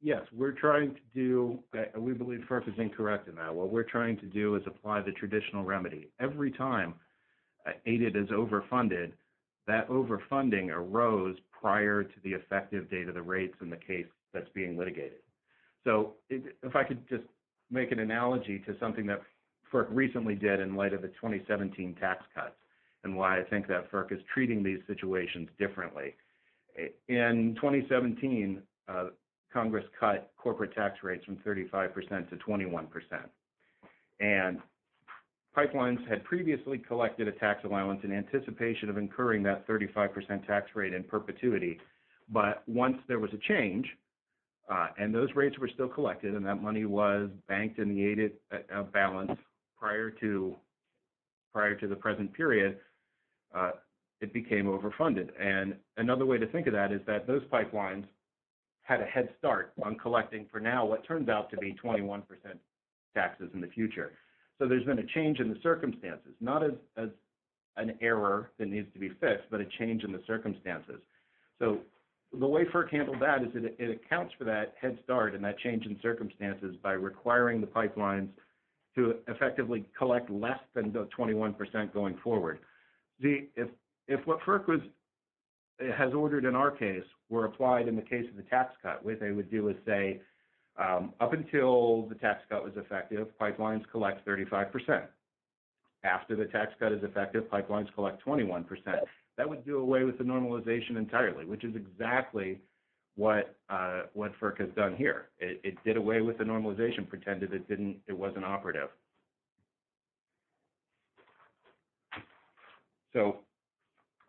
Yes, we're trying to do that. We believe FERC is incorrect in that. What we're trying to do is apply the traditional remedy. Every time aided is overfunded, that overfunding arose prior to the effective date of the rates in the case that's being litigated. So if I could just make an analogy to something that FERC recently did in light of the 2017 tax cuts and why I think that FERC is treating these situations differently. In 2017, Congress cut corporate tax rates from 35% to 21%. And pipelines had previously collected a tax allowance in anticipation of incurring that 35% tax rate in perpetuity. But once there was a change and those rates were still collected and that money was banked in the aided balance prior to the present period, it became overfunded. And another way to think of that is that those pipelines had a head start on collecting for now what turns out to be 21% taxes in the future. So there's been a change in the circumstances, not as an error that needs to be fixed, but a change in the circumstances. So the way FERC handled that is it accounts for that head start and that change in circumstances by requiring the pipelines to effectively collect less than the 21% going forward. If what FERC has ordered in our case were applied in the case of the tax cut, what they would do is say, up until the tax cut was effective, pipelines collect 35%. After the tax cut is effective, pipelines collect 21%. That would do away with the normalization entirely, which is exactly what FERC has done here. It did away with the normalization, pretended it wasn't operative. So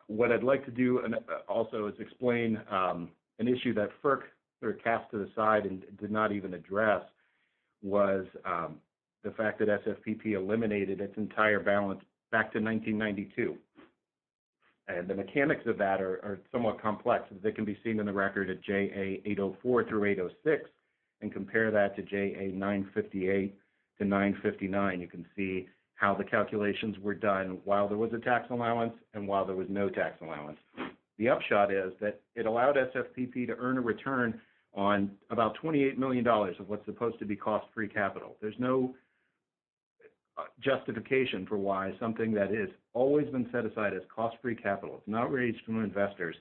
what I'd like to do also is explain an issue that FERC sort of cast to the side and did not even address was the fact that SFPP eliminated its entire balance back to 1992. And the mechanics of that are somewhat complex. They can be seen in the record at JA804 through 806 and compare that to JA958 to 959. You can see how the calculations were done while there was a tax allowance and while there was no tax allowance. The upshot is that it allowed SFPP to earn a return on about $28 million of what's supposed to be cost-free capital. There's no justification for why something that has always been set aside as cost-free capital, it's not raised from investors,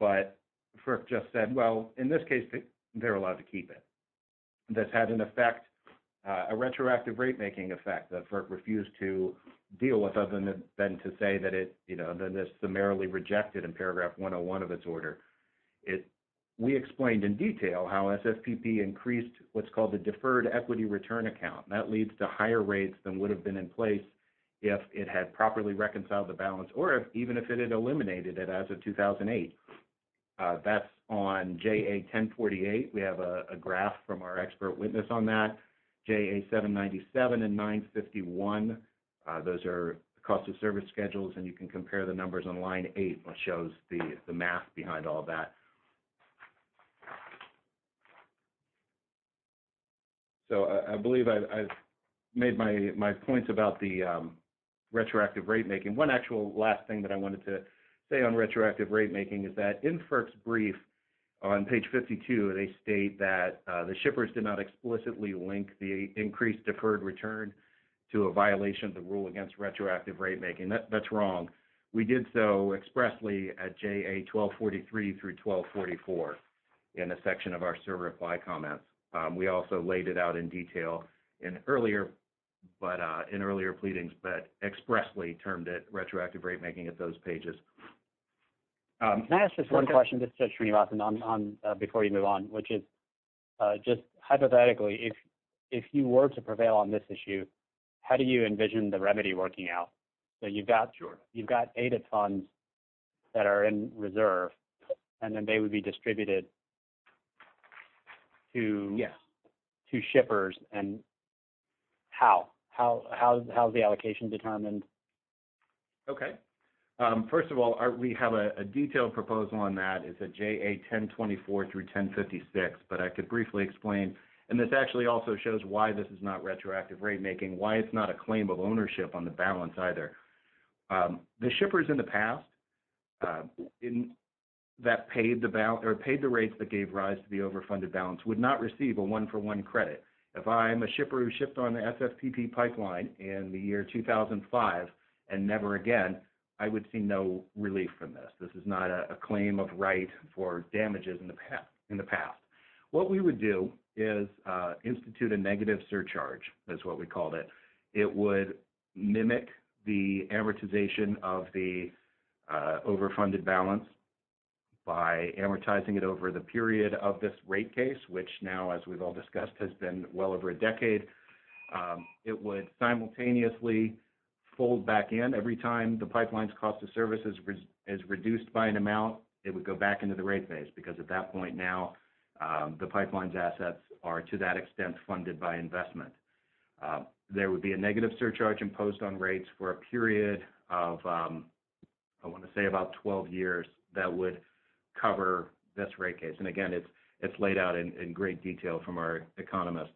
but FERC just said, well, in this case, they're allowed to keep it. This had an effect, a retroactive rate-making effect that FERC refused to deal with other than to say that it, you know, that this summarily rejected in paragraph 101 of this order. We explained in detail how SFPP increased what's called the deferred equity return account. That leads to higher rates than would have been in place if it had properly reconciled the balance or even if it had eliminated it as of 2008. That's on JA1048. We have a graph from our expert witness on that. JA797 and 951, those are cost of service schedules, and you can compare the numbers on line eight, which shows the math behind all that. I believe I've made my points about the retroactive rate-making. One actual last thing that I wanted to say on retroactive rate-making is that in FERC's brief on page 52, they state that the shippers did not explicitly link the increased deferred return to a violation of the rule against retroactive rate-making. That's wrong. We did so expressly at JA1243 through 1244 in a section of our server reply comment. We also laid it out in detail in earlier pleadings, but expressly termed it retroactive rate-making at those pages. Can I ask just one question before you move on? Hypothetically, if you were to prevail on this issue, how do you envision the remedy working out? You've got aided funds that are in reserve, and then they would be distributed to shippers. How is the allocation determined? Okay. First of all, we have a detailed proposal on that. It's at JA1024 through 1056, but I could briefly explain, and this actually also shows why this is not retroactive rate-making, why it's not a claim of ownership on the balance either. The shippers in the past that paid the rates that gave rise to the overfunded balance would not receive a one-for-one credit. If I'm a shipper who shipped on the SFPP pipeline in the year 2005 and never again, I would see no relief from this. This is not a claim of right for damages in the past. What we would do is institute a negative surcharge, is what we called it. It would mimic the amortization of the overfunded balance by amortizing it over the period of this rate case, which now, as we've all discussed, has been well over a decade. It would simultaneously fold back in. Every time the pipeline's cost of service is reduced by an amount, it would go back into the rate phase, because at that point now, the pipeline's assets are, to that extent, funded by investment. There would be a negative surcharge imposed on rates for a period of, I want to say, about 12 years that would cover this rate case. Again, it's laid out in great detail from our economists.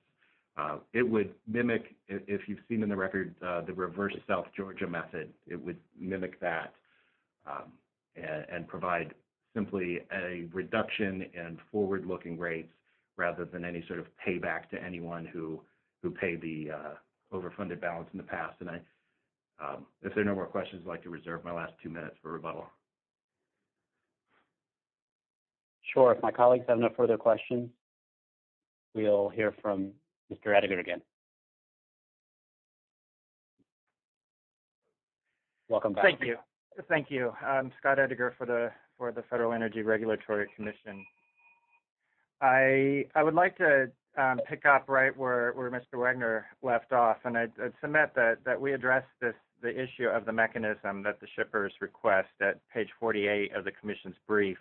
It would mimic, if you've seen in the record, the reverse South Georgia method. It would mimic that and provide simply a reduction in forward-looking rates rather than any sort of payback to anyone who paid the overfunded balance in the past. If there are no more questions, I'd like to reserve my last two minutes for rebuttal. Sure. If my colleagues have no further questions, we'll hear from Mr. Edinger again. Welcome back. Page 48 of the Commission's brief.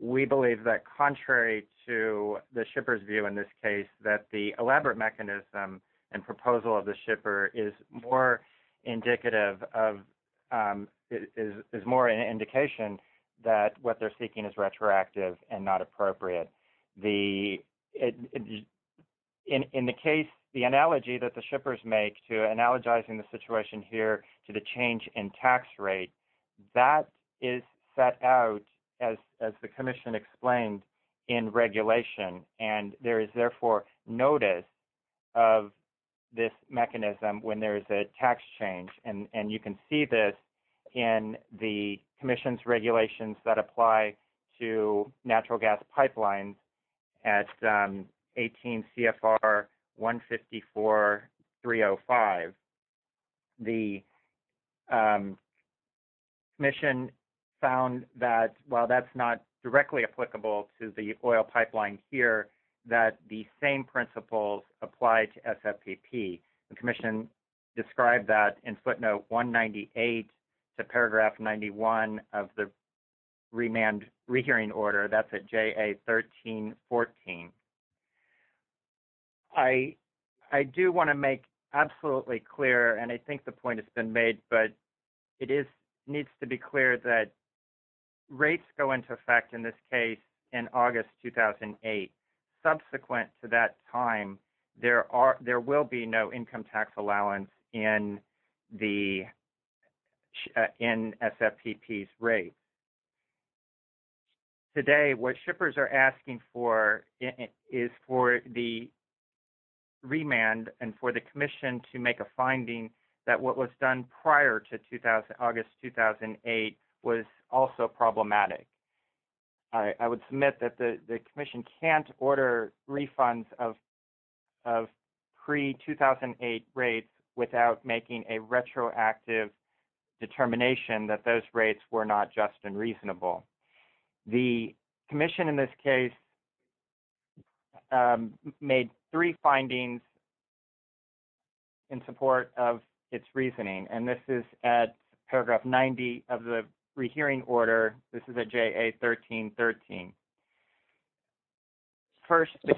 We believe that, contrary to the shipper's view in this case, that the elaborate mechanism and proposal of the shipper is more indicative of – is more an indication that what they're seeking is retroactive and not appropriate. In the case, the analogy that the shippers make to analogizing the situation here to the change in tax rate, that is set out, as the Commission explained, in regulation. There is, therefore, notice of this mechanism when there is a tax change. You can see this in the Commission's regulations that apply to natural gas pipelines at 18 CFR 154.305. The Commission found that, while that's not directly applicable to the oil pipeline here, that the same principles apply to SFPP. The Commission described that in footnote 198 to paragraph 91 of the re-hearing order. That's at JA 1314. I do want to make absolutely clear, and I think the point has been made, but it needs to be clear that rates go into effect in this case in August 2008. Subsequent to that time, there will be no income tax allowance in the – in SFPP's rate. Today, what shippers are asking for is for the remand and for the Commission to make a finding that what was done prior to August 2008 was also problematic. I would submit that the Commission can't order refunds of pre-2008 rates without making a retroactive determination that those rates were not just and reasonable. The Commission in this case made three findings in support of its reasoning, and this is at paragraph 90 of the re-hearing order. The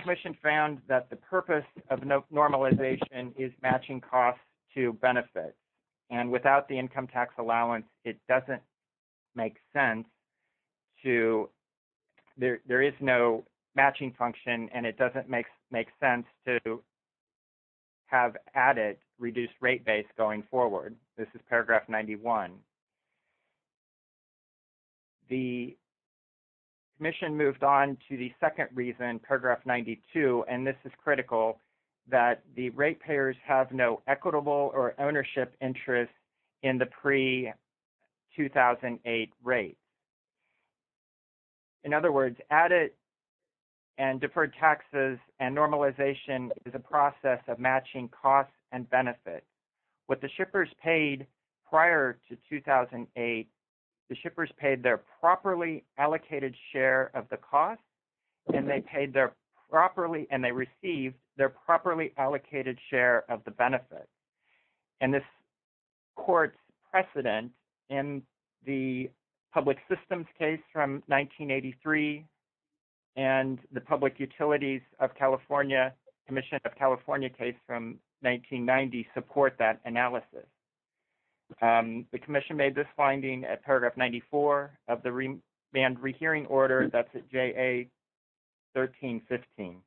Commission found that the purpose of normalization is matching costs to benefits, and without the income tax allowance, it doesn't make sense to – there is no matching function, and it doesn't make sense to have added reduced rate base going forward. This is paragraph 91. The Commission moved on to the second reason, paragraph 92, and this is critical, that the rate payers have no equitable or ownership interest in the pre-2008 rate. In other words, added and deferred taxes and normalization is a process of matching costs and benefits. What the shippers paid prior to 2008, the shippers paid their properly allocated share of the cost, and they paid their properly – and they received their properly allocated share of the benefit. And this court's precedent in the public systems case from 1983 and the public utilities of California, Commission of California case from 1990, support that analysis. The Commission made this finding at paragraph 94 of the remand re-hearing order. That's at JA 1315.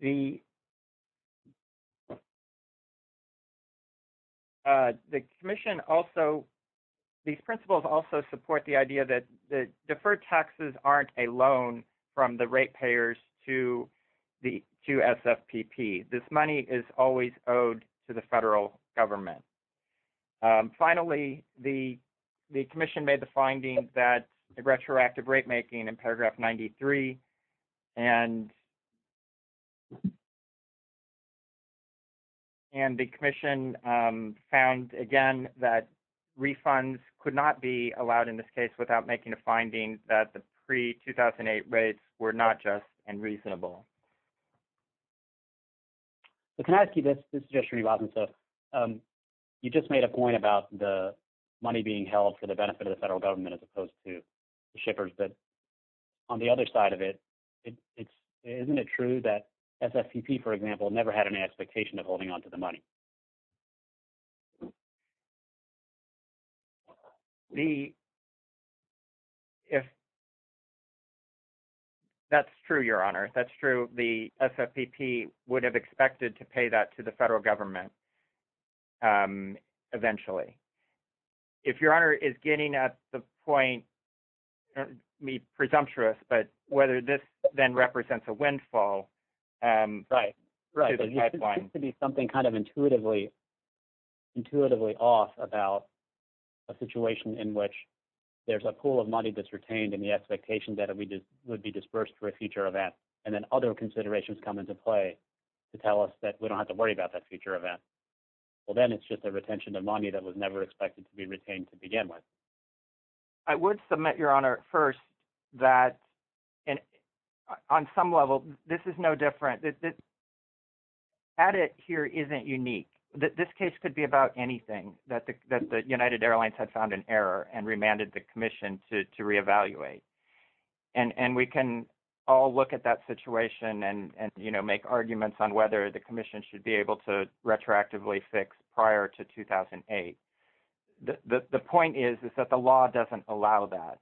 The Commission also – these principles also support the idea that deferred taxes aren't a loan from the rate payers to the – to SFPP. This money is always owed to the federal government. Finally, the Commission made the finding that the retroactive rate making in paragraph 93 and the Commission found, again, that refunds could not be allowed in this case without making a finding that the pre-2008 rates were not just and reasonable. So can I ask you this? This is just for you, Robin. So you just made a point about the money being held for the benefit of the federal government as opposed to the shippers. But on the other side of it, isn't it true that SFPP, for example, never had an expectation of holding onto the money? The – if – that's true, Your Honor. That's true. The SFPP would have expected to pay that to the federal government eventually. If Your Honor is getting at the point – presumptuous, but whether this then represents a windfall to the pipeline. There tends to be something kind of intuitively off about a situation in which there's a pool of money that's retained and the expectation that it would be disbursed for a future event, and then other considerations come into play to tell us that we don't have to worry about that future event. Well, then it's just a retention of money that was never expected to be retained to begin with. I would submit, Your Honor, first, that on some level, this is no different. Addit here isn't unique. This case could be about anything, that the United Airlines had found an error and remanded the commission to reevaluate. And we can all look at that situation and make arguments on whether the commission should be able to retroactively fix prior to 2008. The point is that the law doesn't allow that.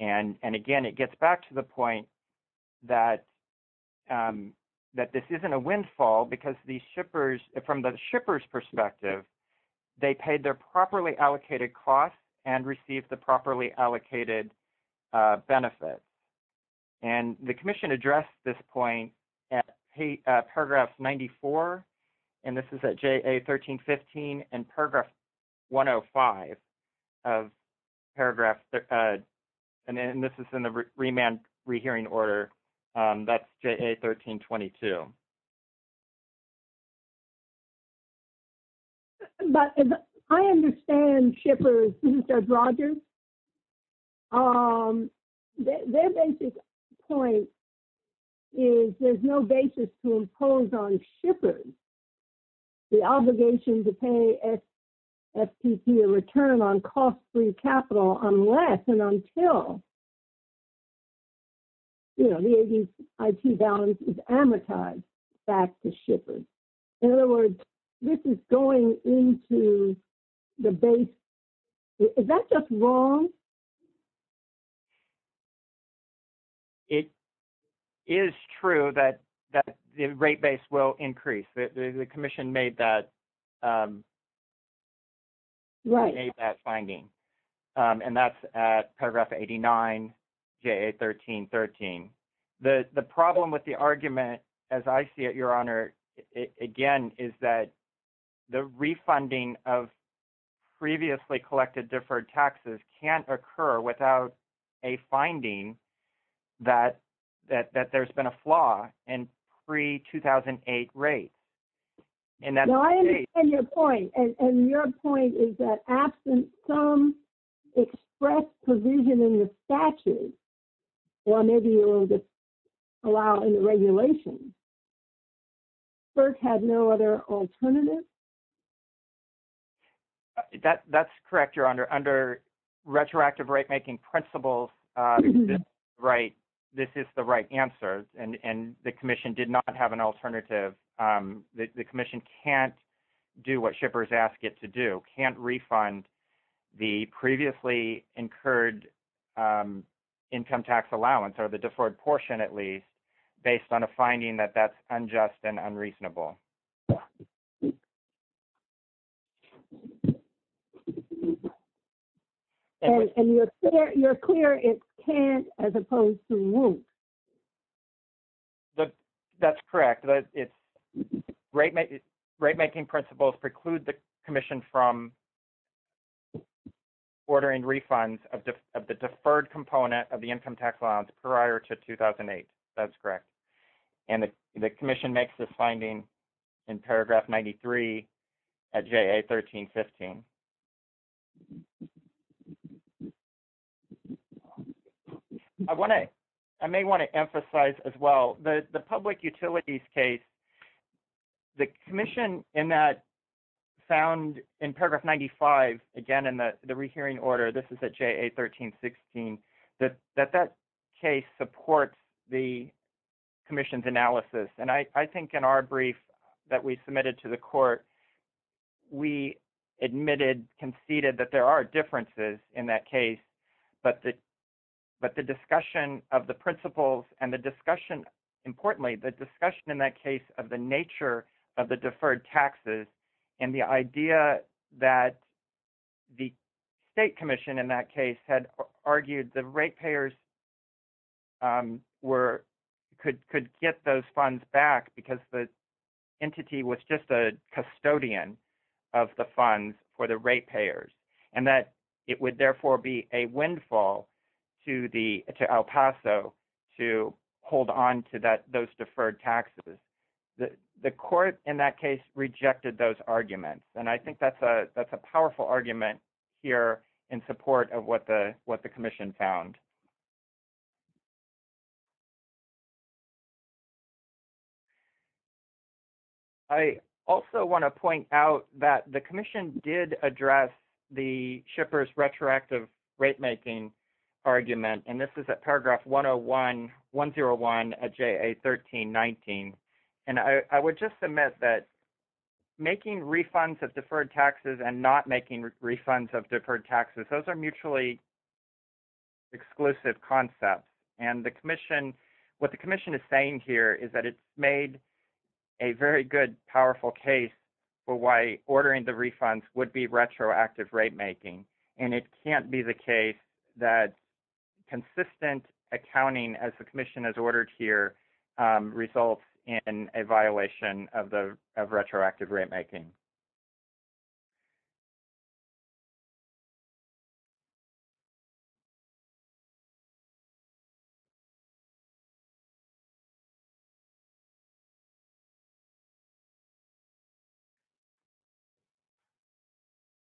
And again, it gets back to the point that this isn't a windfall because these shippers – from the shippers' perspective, they paid their properly allocated costs and received the properly allocated benefit. And the commission addressed this point at Paragraph 94, and this is at JA 1315, and Paragraph 105 of Paragraph – and this is in the remand rehearing order – that's JA 1322. But I understand shippers – this is Deb Rogers – their basic point is there's no basis to impose on shippers the obligation to pay FTC a return on cost-free capital unless and until the 80s IT balance is amortized back to shippers. In other words, this is going into the base – is that just wrong? It is true that the rate base will increase. The commission made that finding, and that's at Paragraph 89, JA 1313. The problem with the argument, as I see it, Your Honor, again, is that the refunding of previously collected deferred taxes can't occur without a finding that there's been a flaw in pre-2008 rates. I understand your point, and your point is that absent some express provision in the statute, or maybe you will allow in the regulations, FERC has no other alternative? That's correct, Your Honor. Under retroactive rate-making principles, this is the right answer, and the commission did not have an alternative. The commission can't do what shippers ask it to do, can't refund the previously incurred income tax allowance, or the deferred portion at least, based on a finding that that's unjust and unreasonable. And you're clear it can't as opposed to won't? That's correct. Rate-making principles preclude the commission from ordering refunds of the deferred component of the income tax allowance prior to 2008. That's correct. And the commission makes this finding in Paragraph 93 at JA 1315. I may want to emphasize as well that the public utilities case, the commission in that found in Paragraph 95, again, in the rehearing order, this is at JA 1316, that that case supports the commission's analysis. And I think in our brief that we submitted to the court, we admitted, conceded that there are differences in that case, but the discussion of the principles and the discussion, importantly, the discussion in that case of the nature of the deferred taxes, and the idea that the state commission in that case had argued the rate payers could get those funds back because the entity was just a custodian of the funds for the rate payers, and that it would therefore be a windfall to El Paso to hold on to those deferred taxes. The court in that case rejected those arguments, and I think that's a powerful argument here in support of what the commission found. I also want to point out that the commission did address the shippers retroactive rate-making argument, and this is at Paragraph 101, 101 at JA 1319, and I would just submit that making refunds of deferred taxes and not making refunds of deferred taxes, those are mutually exclusive. And the commission, what the commission is saying here is that it made a very good, powerful case for why ordering the refunds would be retroactive rate-making, and it can't be the case that consistent accounting as the commission has ordered here results in a violation of retroactive rate-making.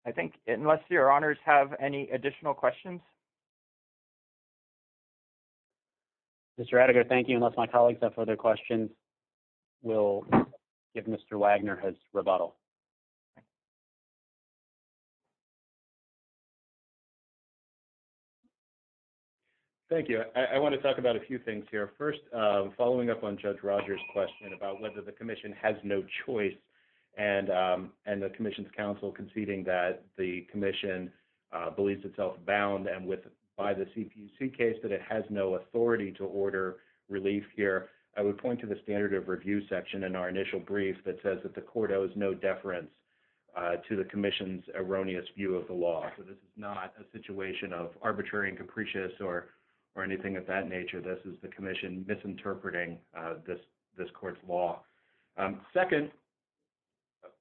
I think, unless your honors have any additional questions. Mr. Rettiger, thank you. Unless my colleagues have further questions, we'll, if Mr. Wagner has rebuttal. Thank you. I want to talk about a few things here. First, following up on Judge Rogers question about whether the commission has no choice and and the commission's counsel conceding that the commission believes itself bound and with by the CPC case that it has no authority to order relief here. I would point to the standard of review section in our initial brief that says that the court owes no deference to the commission's erroneous view of the law. So this is not a situation of arbitrary and capricious or or anything of that nature. This is the commission misinterpreting this court's law. Second,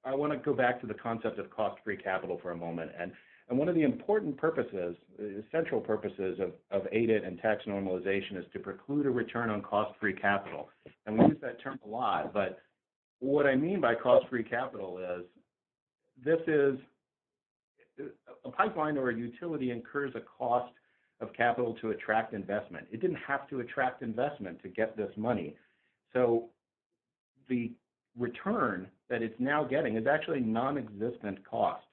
I want to go back to the concept of cost-free capital for a moment. And one of the important purposes, central purposes of ADA and tax normalization is to preclude a return on cost-free capital. And we use that term a lot, but what I mean by cost-free capital is this is a pipeline or a utility incurs a cost of capital to attract investment. It didn't have to attract investment to get this money. So the return that it's now getting is actually non-existent cost.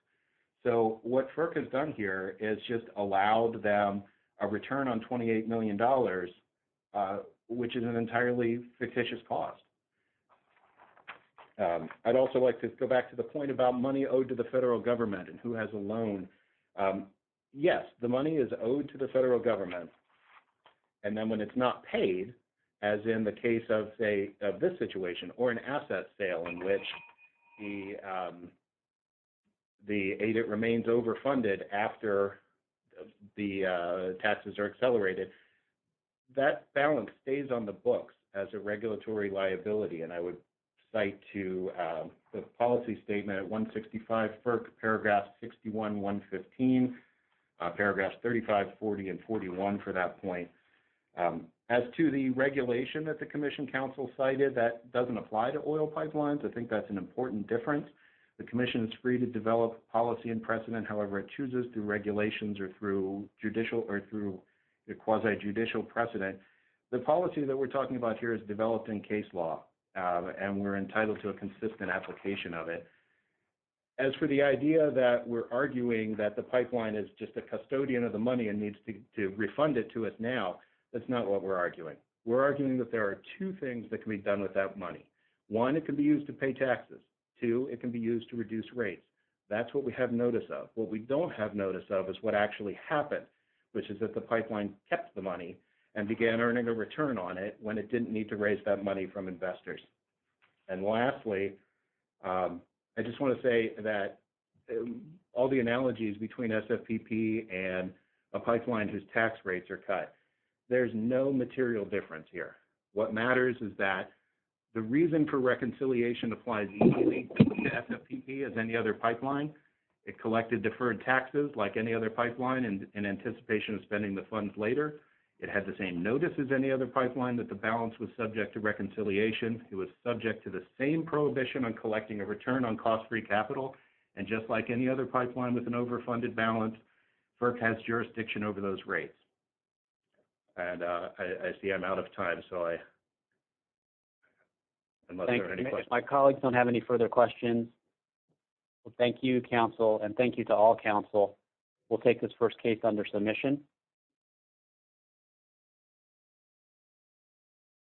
So what FERC has done here is just allowed them a return on $28 million, which is an entirely fictitious cost. I'd also like to go back to the point about money owed to the federal government and who has a loan. Yes, the money is owed to the federal government. And then when it's not paid, as in the case of this situation or an asset sale in which the ADA remains overfunded after the taxes are accelerated, that balance stays on the books as a regulatory liability. And I would cite to the policy statement at 165 FERC, paragraphs 61, 115, paragraphs 35, 40, and 41 for that point. As to the regulation that the Commission Council cited, that doesn't apply to oil pipelines. I think that's an important difference. The Commission is free to develop policy and precedent however it chooses through regulations or through judicial or through the quasi-judicial precedent. The policy that we're talking about here is developed in case law, and we're entitled to a consistent application of it. As for the idea that we're arguing that the pipeline is just a custodian of the money and needs to refund it to us now, that's not what we're arguing. We're arguing that there are two things that can be done with that money. One, it can be used to pay taxes. Two, it can be used to reduce rates. That's what we have notice of. What we don't have notice of is what actually happened, which is that the pipeline kept the money and began earning a return on it when it didn't need to raise that money from investors. Lastly, I just want to say that all the analogies between SFPP and a pipeline whose tax rates are cut, there's no material difference here. What matters is that the reason for reconciliation applies equally to the SFPP as any other pipeline. It collected deferred taxes like any other pipeline in anticipation of spending the funds later. It had the same notice as any other pipeline that the balance was subject to reconciliation. It was subject to the same prohibition on collecting a return on cost-free capital. Just like any other pipeline with an overfunded balance, forecast jurisdiction over those rates. I see I'm out of time. My colleagues don't have any further questions. Thank you, Council, and thank you to all Council. We'll take this first case under submission.